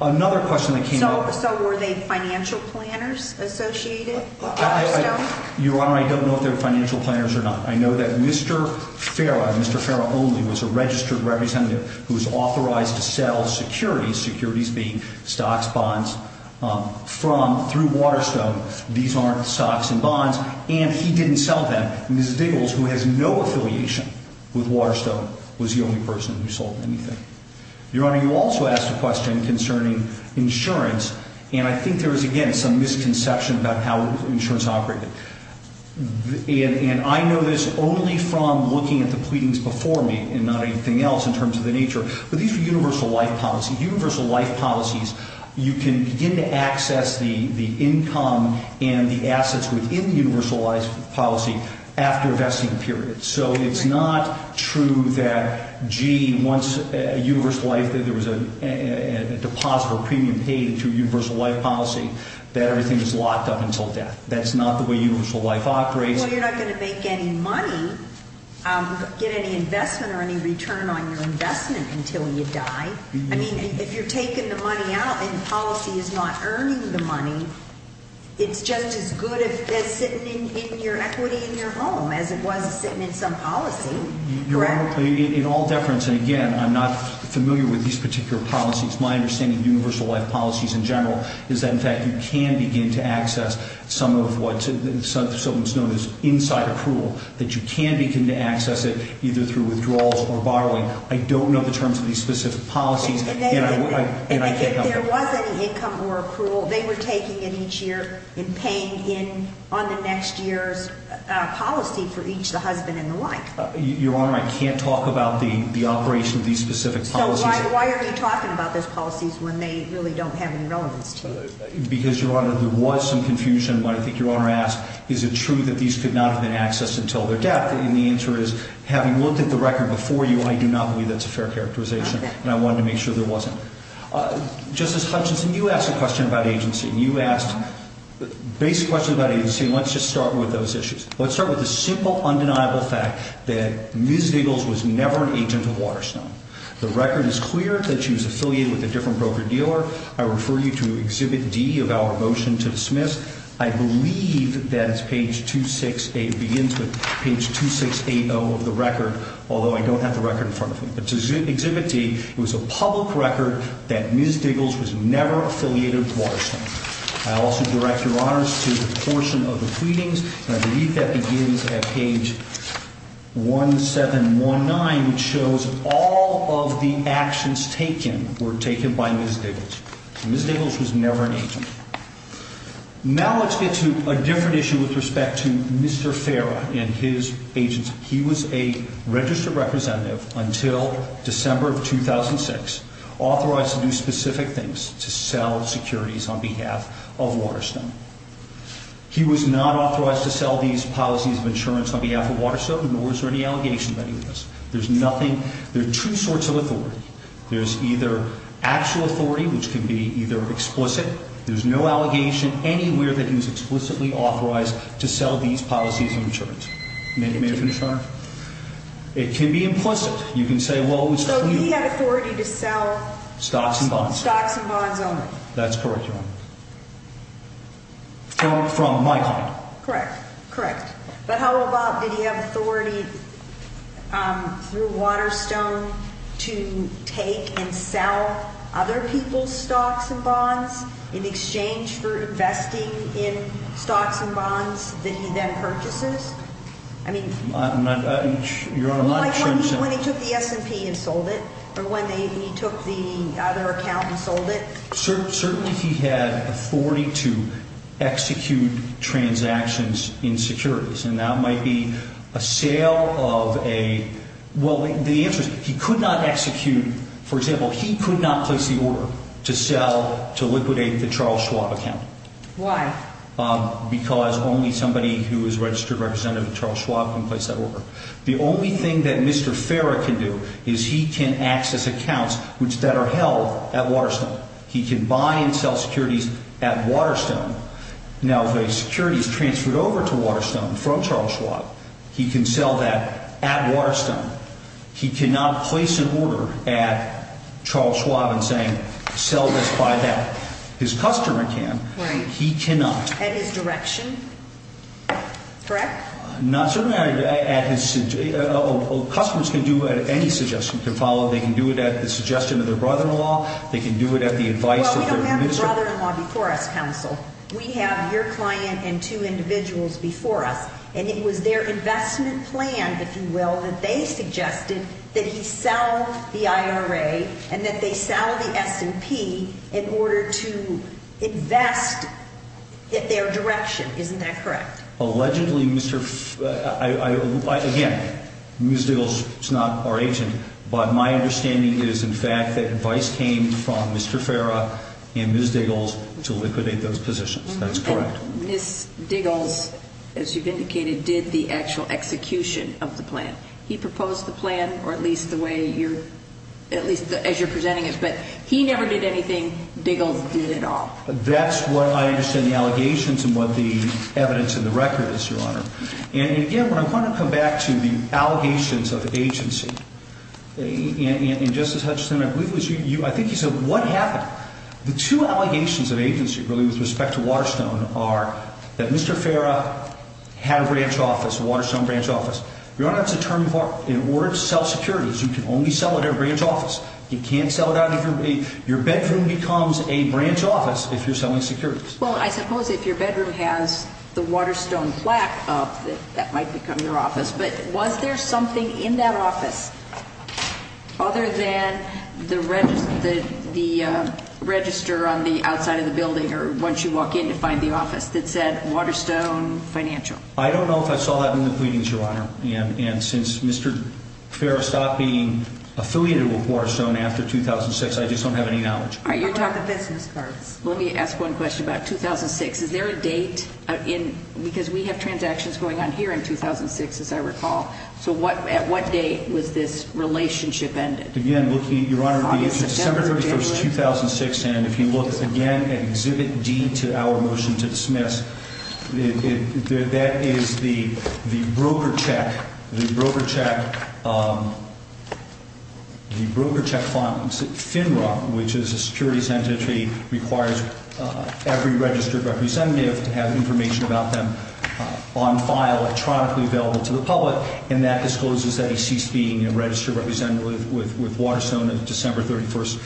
Another question that came up. So were they financial planners associated? Your Honor, I don't know if they were financial planners or not. I know that Mr. Ferrer, Mr. Ferrer only, was a registered representative who was authorized to sell securities, securities being stocks, bonds, from, through Waterstone. These aren't stocks and bonds, and he didn't sell them. Ms. Vigils, who has no affiliation with Waterstone, was the only person who sold anything. Your Honor, you also asked a question concerning insurance, and I think there is again some misconception about how insurance operated. And I know this only from looking at the pleadings before me, and not anything else in terms of the nature. But these are universal life policies. Universal life policies, you can begin to access the income and the assets within the universal life policy after the vesting period. So it's not true that, gee, once a universal life, there was a deposit or premium paid through universal life policy, that everything is locked up until death. That's not the way universal life operates. Well, you're not going to make any money, get any investment or any return on your investment until you die. I mean, if you're taking the money out and the policy is not earning the money, it's just as good as sitting in your equity in your home as it was sitting in some policy. Your Honor, in all deference, and again, I'm not familiar with these particular policies. My understanding of universal life policies in general is that, in fact, you can begin to access some of what is known as inside approval, that you can begin to access it either through withdrawals or borrowing. I don't know the terms of these specific policies, and I can't help you. And if there wasn't an income or accrual, they were taking in each year and paying in on the next year policy for each of the husband and wife. Your Honor, I can't talk about the operation of these specific policies. So why are you talking about those policies when they really don't have any relevance? Because, Your Honor, there was some confusion, but I think Your Honor asked, is it true that these could not have been accessed until their death? And the answer is, having looked at the record before you, I do not believe that's a fair characterization, and I wanted to make sure there wasn't. Justice Hutchinson, you asked a question about agency. You asked a basic question about agency. Let's just start with those issues. Let's start with the simple, undeniable fact that Ms. Vigils was never an agent of Waterstone. The record is clear that she was affiliated with a different broker-dealer. I refer you to Exhibit D of our motion to dismiss. I believe that it's page 268 begins with page 2680 of the record, although I don't have the record in front of me. Exhibit D was a public record that Ms. Vigils was never affiliated with Waterstone. I also direct Your Honor's to a portion of the pleadings, and I believe that begins at page 1719, which shows all of the actions taken were taken by Ms. Vigils. Ms. Vigils was never an agent. Now let's get to a different issue with respect to Mr. Farrell and his agency. He was a registered representative until December of 2006, authorized to do specific things to sell securities on behalf of Waterstone. He was not authorized to sell these policies of insurance on behalf of Waterstone, nor is there any allegation against him. There are two sorts of authority. There's either actual authority, which can be either explicit. There's no allegation anywhere that he was explicitly authorized to sell these policies of insurance. May I finish, Your Honor? It can be implicit. You can say, well, it was created. So he had authority to sell stocks and bonds. Stocks and bonds only. That's correct, Your Honor. From my time. Correct, correct. But how about that he had authority through Waterstone to take and sell other people's stocks and bonds in exchange for investing in stocks and bonds that he then purchases? I mean, Your Honor, I'm not sure. When he took the S&P and sold it. Or when he took the other account and sold it. Certainly he had authority to execute transactions in securities. And that might be a sale of a, well, the interest, he could not execute, for example, he could not place the order to sell, to liquidate the Charles Schwab account. Why? Because only somebody who is registered representative of Charles Schwab can place that order. The only thing that Mr. Farrah can do is he can access accounts that are held at Waterstone. He can buy and sell securities at Waterstone. Now, the securities transferred over to Waterstone from Charles Schwab, he can sell that at Waterstone. He cannot place an order at Charles Schwab and say sell this by that. His customer can. He cannot. At his direction? Correct? Not certainly. Customers can do it at any suggestion. They can do it at the suggestion of their brother-in-law. They can do it at the advice of their visitor. Well, we don't have a brother-in-law before us, counsel. We have your client and two individuals before us. And it was their investment plan, if you will, that they suggested that you sell the IRA and that they sell the S&P in order to invest at their direction. Isn't that correct? Allegedly, Mr. Farrah, again, Ms. Diggles is not our agent, but my understanding is, in fact, that advice came from Mr. Farrah and Ms. Diggles to liquidate those positions. That's correct. Ms. Diggles, as you've indicated, did the actual execution of the plan. He proposed the plan, or at least the way you're presenting it, but he never did anything. Diggles did it all. That's what I understand the allegations and what the evidence of the record is, Your Honor. And, again, when I want to come back to the allegations of agency, and, Justice Hutchinson, I think you said what happened. The two allegations of agency, really, with respect to Waterstone, are that Mr. Farrah had a branch office, a Waterstone branch office. Your Honor, that's a term for, in order to sell securities, you can only sell it at a branch office. You can't sell it out of your, your bedroom becomes a branch office if you're selling securities. Well, I suppose if your bedroom has the Waterstone plaque up, that might become your office. But was there something in that office, other than the register on the outside of the building, or once you walk in, you find the office, that said Waterstone Financial? I don't know if I saw that in the pleadings, Your Honor. And since Mr. Farrah stopped being affiliated with Waterstone after 2006, I just don't have any knowledge. Let me ask one question about 2006. Is there a date, because we have transactions going on here in 2006, as I recall. So, at what date was this relationship ended? Again, Your Honor, December 1, 2006. And if you look again at Exhibit D to our motion to dismiss, that is the broker check, the broker check, the broker check from FINRA, which is a securities entity, requires every registered representative to have information about them on file, electronically available to the public, and that discloses that he ceased being a registered representative with Waterstone on December 31,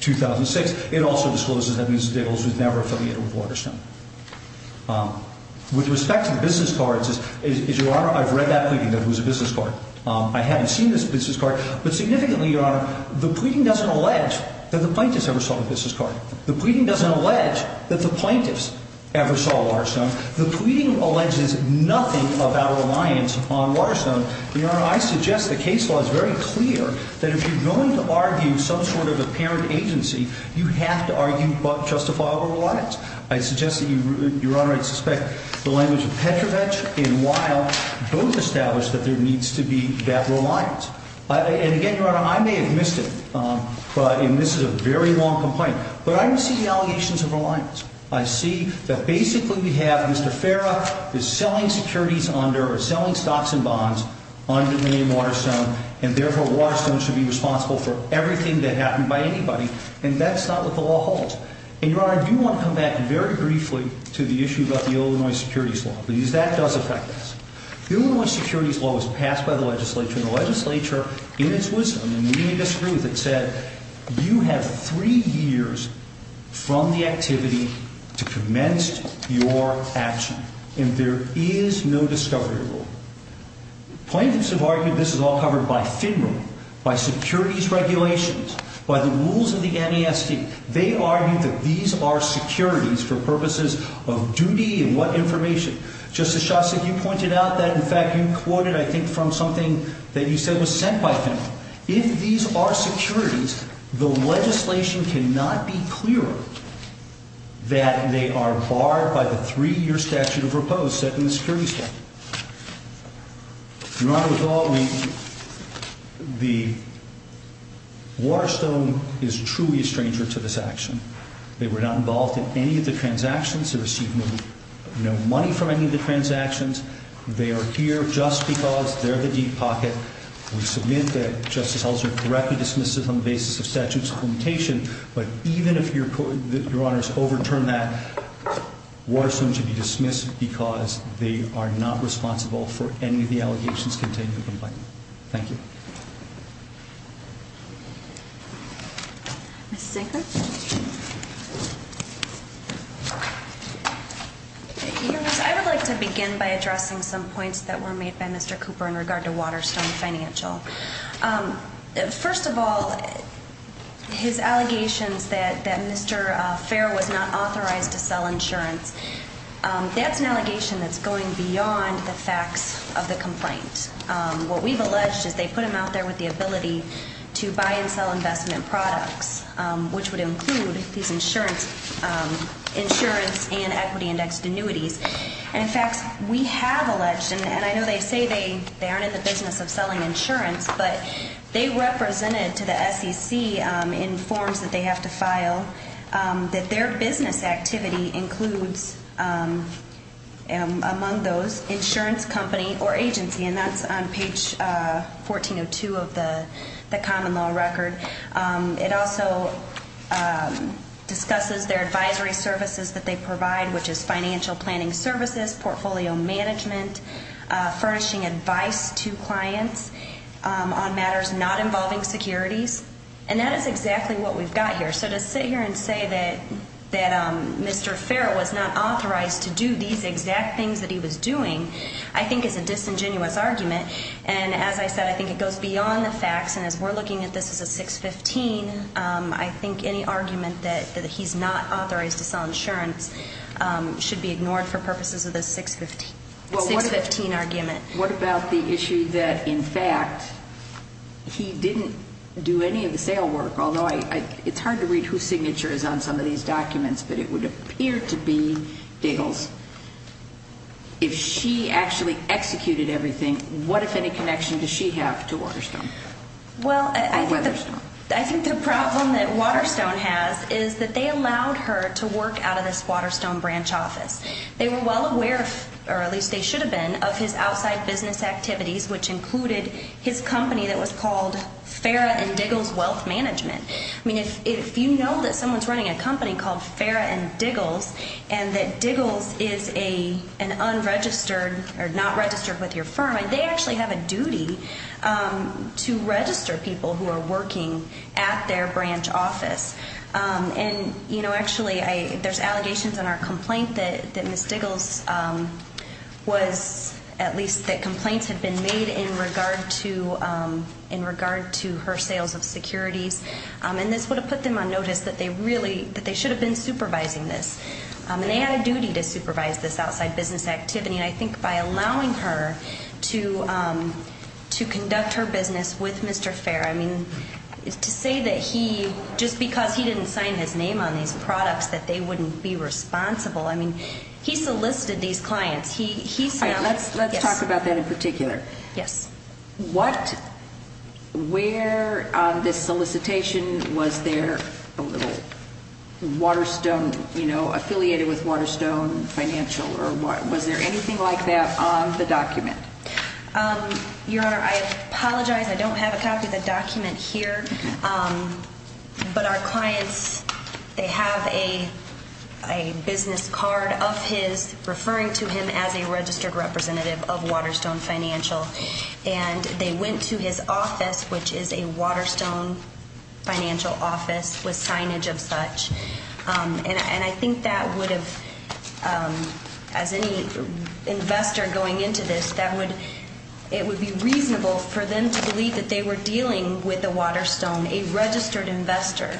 2006. It also discloses that Mr. Diggles was never affiliated with Waterstone. With respect to business cards, Your Honor, I've read that thing, that it was a business card. I haven't seen this business card. But significantly, Your Honor, the pleading doesn't allege that the plaintiffs ever saw the business card. The pleading doesn't allege that the plaintiffs ever saw Waterstone. The pleading alleges nothing about a reliance upon Waterstone. Your Honor, I suggest the case law is very clear that if you're going to argue some sort of apparent agency, you have to argue both justifiable and reliance. I suggest that you, Your Honor, suspect the language of Petrovich and Weill both establish that there needs to be that reliance. And again, Your Honor, I may have missed it, and this is a very long complaint, but I see the allegations of reliance. I see that basically we have Mr. Farah is selling securities under or selling stocks and bonds under the name Waterstone, and therefore Waterstone should be responsible for everything that happened by anybody, and that's not what the law holds. And, Your Honor, I do want to come back very briefly to the issue about the Illinois Securities Law, because that does affect this. The Illinois Securities Law was passed by the legislature, and the legislature, in its wisdom, you have three years from the activity to commence your action, and there is no discovery rule. Plaintiffs have argued this is all covered by FIDMA, by securities regulations, by the rules of the NESD. They argue that these are securities for purposes of duty and what information. Justice Shostak, you pointed out that, in fact, you quoted, I think, from something that you said was sent by FIDMA. If these are securities, the legislation cannot be clearer that they are barred by the three-year statute of repose set in the Securities Act. Your Honor, with all due respect, the Waterstone is truly a stranger to this action. They were not involved in any of the transactions, so excuse me, no money from any of the transactions. They are here just because they're the deep pocket. We submit that Justice Holzman correctly dismissed it on the basis of statutes of limitation, but even if Your Honor has overturned that, Waterstone should be dismissed because they are not responsible for any of the allegations contained in the complaint. Thank you. Ms. Nathan? Your Honor, I would like to begin by addressing some points that were made by Mr. Cooper in regard to Waterstone Financial. First of all, his allegations that Mr. Fair was not authorized to sell insurance, that's an allegation that's going beyond the facts of the complaint. What we've alleged is they put him out there with the ability to buy and sell investment products, which would include insurance and equity and extenuity. In fact, we have alleged, and I know they say they aren't in the business of selling insurance, but they represented to the SEC in forms that they have to file that their business activity includes, among those, insurance company or agency, and that's on page 1402 of the common law record. It also discusses their advisory services that they provide, which is financial planning services, portfolio management, furnishing advice to clients on matters not involving securities, and that is exactly what we've got here. So to sit here and say that Mr. Fair was not authorized to do these exact things that he was doing, I think it's a disingenuous argument, and as I said, I think it goes beyond the facts, and as we're looking at this as a 615, I think any argument that he's not authorized to sell insurance should be ignored for purposes of the 615 argument. What about the issue that, in fact, he didn't do any of the sale work, although it's hard to read whose signature is on some of these documents, but it would appear to be sales. If she actually executed everything, what, if any, connection does she have to Waterstone? I think the problem that Waterstone has is that they allowed her to work out of this Waterstone branch office. They were well aware, or at least they should have been, of his outside business activities, which included his company that was called Farrah and Diggles Wealth Management. I mean, if you know that someone's running a company called Farrah and Diggles, and that Diggles is an unregistered or not registered with your firm, they actually have a duty to register people who are working at their branch office, and actually there's allegations in our complaint that Ms. Diggles was, at least the complaint had been made in regard to her sales of security, and this would have put them on notice that they should have been supervising this. They had a duty to supervise this outside business activity, and I think by allowing her to conduct her business with Mr. Fair, I mean, to say that he, just because he didn't sign his name on these products, that they wouldn't be responsible, I mean, he solicited these clients. Let's talk about that in particular. Yes. What, where on this solicitation was there a little Waterstone, you know, affiliated with Waterstone Financial, or was there anything like that on the document? Your Honor, I apologize. I don't have a copy of the document here, but our clients, they have a business card of his, referring to him as a registered representative of Waterstone Financial, and they went to his office, which is a Waterstone Financial office with signage of such, and I think that would have, as any investor going into this, that would, it would be reasonable for them to believe that they were dealing with a Waterstone, a registered investor.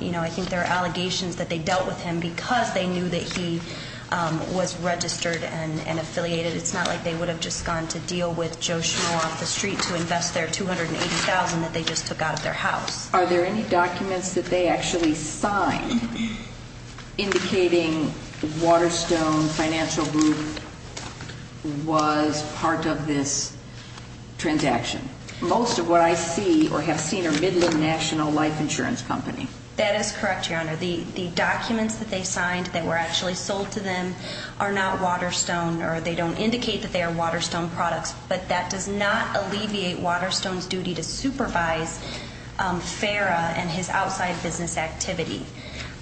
You know, I think there are allegations that they dealt with him because they knew that he was registered and affiliated. It's not like they would have just gone to deal with Joe Schmuel off the street to invest their $280,000 that they just took out of their house. Are there any documents that they actually signed indicating Waterstone Financial Group was part of this transaction? Most of what I see, or have seen, are Midland National Life Insurance Company. That is correct, Your Honor. The documents that they signed that were actually sold to them are not Waterstone, or they don't indicate that they are Waterstone products, but that does not alleviate Waterstone's duty to supervise Farrah and his outside business activities,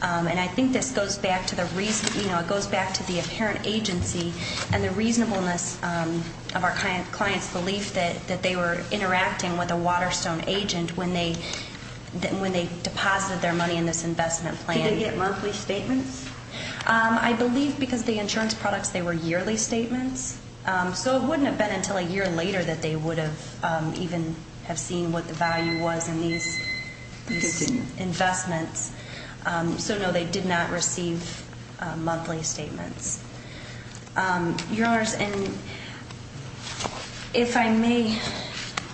and I think this goes back to the recent, you know, it goes back to the apparent agency and the reasonableness of our client's belief that they were interacting with a Waterstone agent when they deposited their money in this investment plan. Did they get monthly statements? I believe because the insurance products, they were yearly statements, so it wouldn't have been until a year later that they would have even seen what the value was in these investments. So, no, they did not receive monthly statements. Your Honor, if I may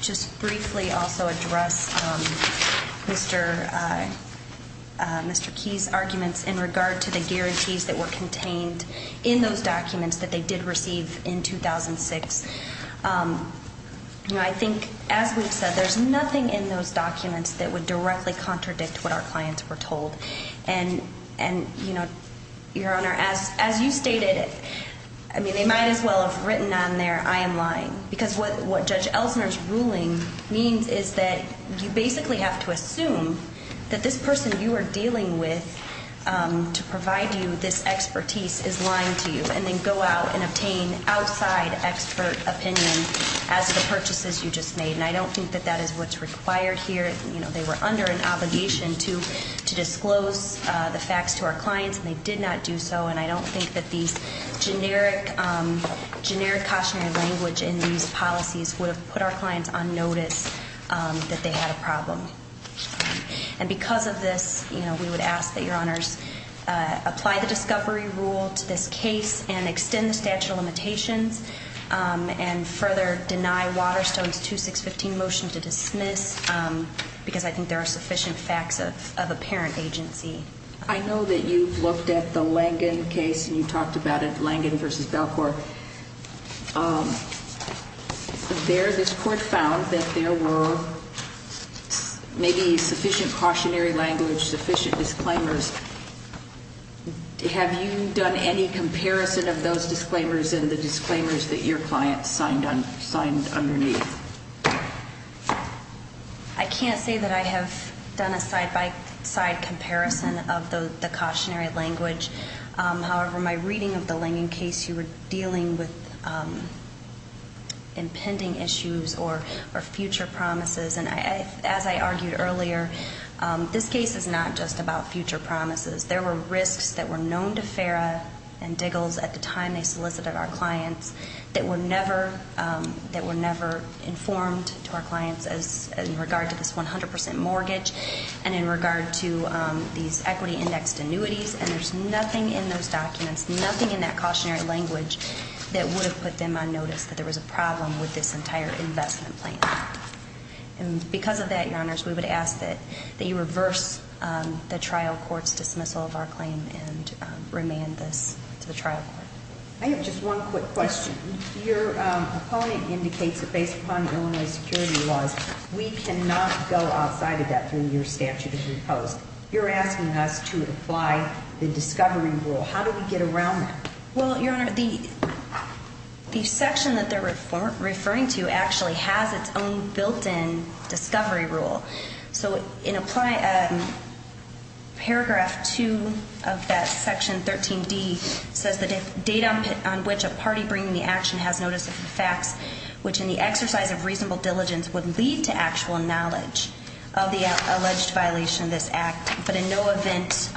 just briefly also address Mr. Key's arguments in regard to the guarantees that were contained in those documents that they did receive in 2006. You know, I think, as we said, there's nothing in those documents that would directly contradict what our clients were told, and, you know, Your Honor, as you stated, I mean, they might as well have written on there, I am lying, because what Judge Elkner's ruling means is that you basically have to assume that this person you are dealing with to provide you this expertise is lying to you and then go out and obtain outside expert opinion as to the purchases you just made, and I don't think that that is what's required here. You know, they were under an obligation to disclose the facts to our clients, and they did not do so, and I don't think that the generic cautionary language in these policies would have put our clients on notice that they had a problem. And because of this, you know, we would ask that Your Honor apply the discovery rule to this case and extend the statute of limitations and further deny Waterstone's 2615 motion to dismiss, because I think there are sufficient facts of apparent agency. I know that you've looked at the Langdon case, and you talked about it, Langdon v. Elkner. There, this court found that there were maybe sufficient cautionary language, sufficient disclaimers. Have you done any comparison of those disclaimers and the disclaimers that your client signed underneath? I can't say that I have done a side-by-side comparison of the cautionary language. However, my reading of the Langdon case, you were dealing with impending issues or future promises, and as I argued earlier, this case is not just about future promises. There were risks that were known to Farah and Diggles at the time they solicited our clients that were never informed to our clients in regard to this 100% mortgage and in regard to these equity index annuities, and there's nothing in those documents, nothing in that cautionary language that would have put them on notice that there was a problem with this entire investment plan. And because of that, Your Honors, we would ask that you reverse the trial court's dismissal of our claim and remand the trial court. I have just one quick question. Your opponent indicates that based upon Illinois security laws, we cannot go outside of that three-year statute as a fellow. You're asking us to apply the discovery rule. How do we get around that? Well, Your Honor, the section that they're referring to actually has its own built-in discovery rule. So in paragraph 2 of that section, 13B, it says that if data on which a party bringing the action has noticed this effect, which in the exercise of reasonable diligence would lead to actual knowledge of the alleged violation of this act, but in no event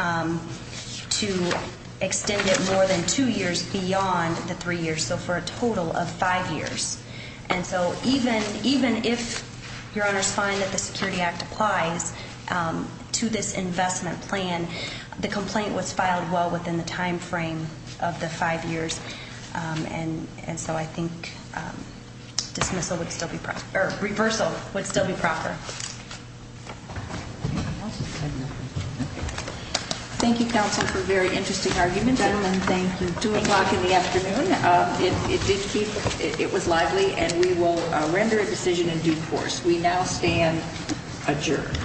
to extend it more than two years beyond the three years, so for a total of five years. And so even if Your Honors find that the Security Act applies to this investment plan, the complaint was filed well within the timeframe of the five years. And so I think reversal would still be proper. Thank you, Counselor, for a very interesting argument. Gentlemen, thanks for doing that in the afternoon. It was lively, and we will render a decision in due course. We now stand adjourned.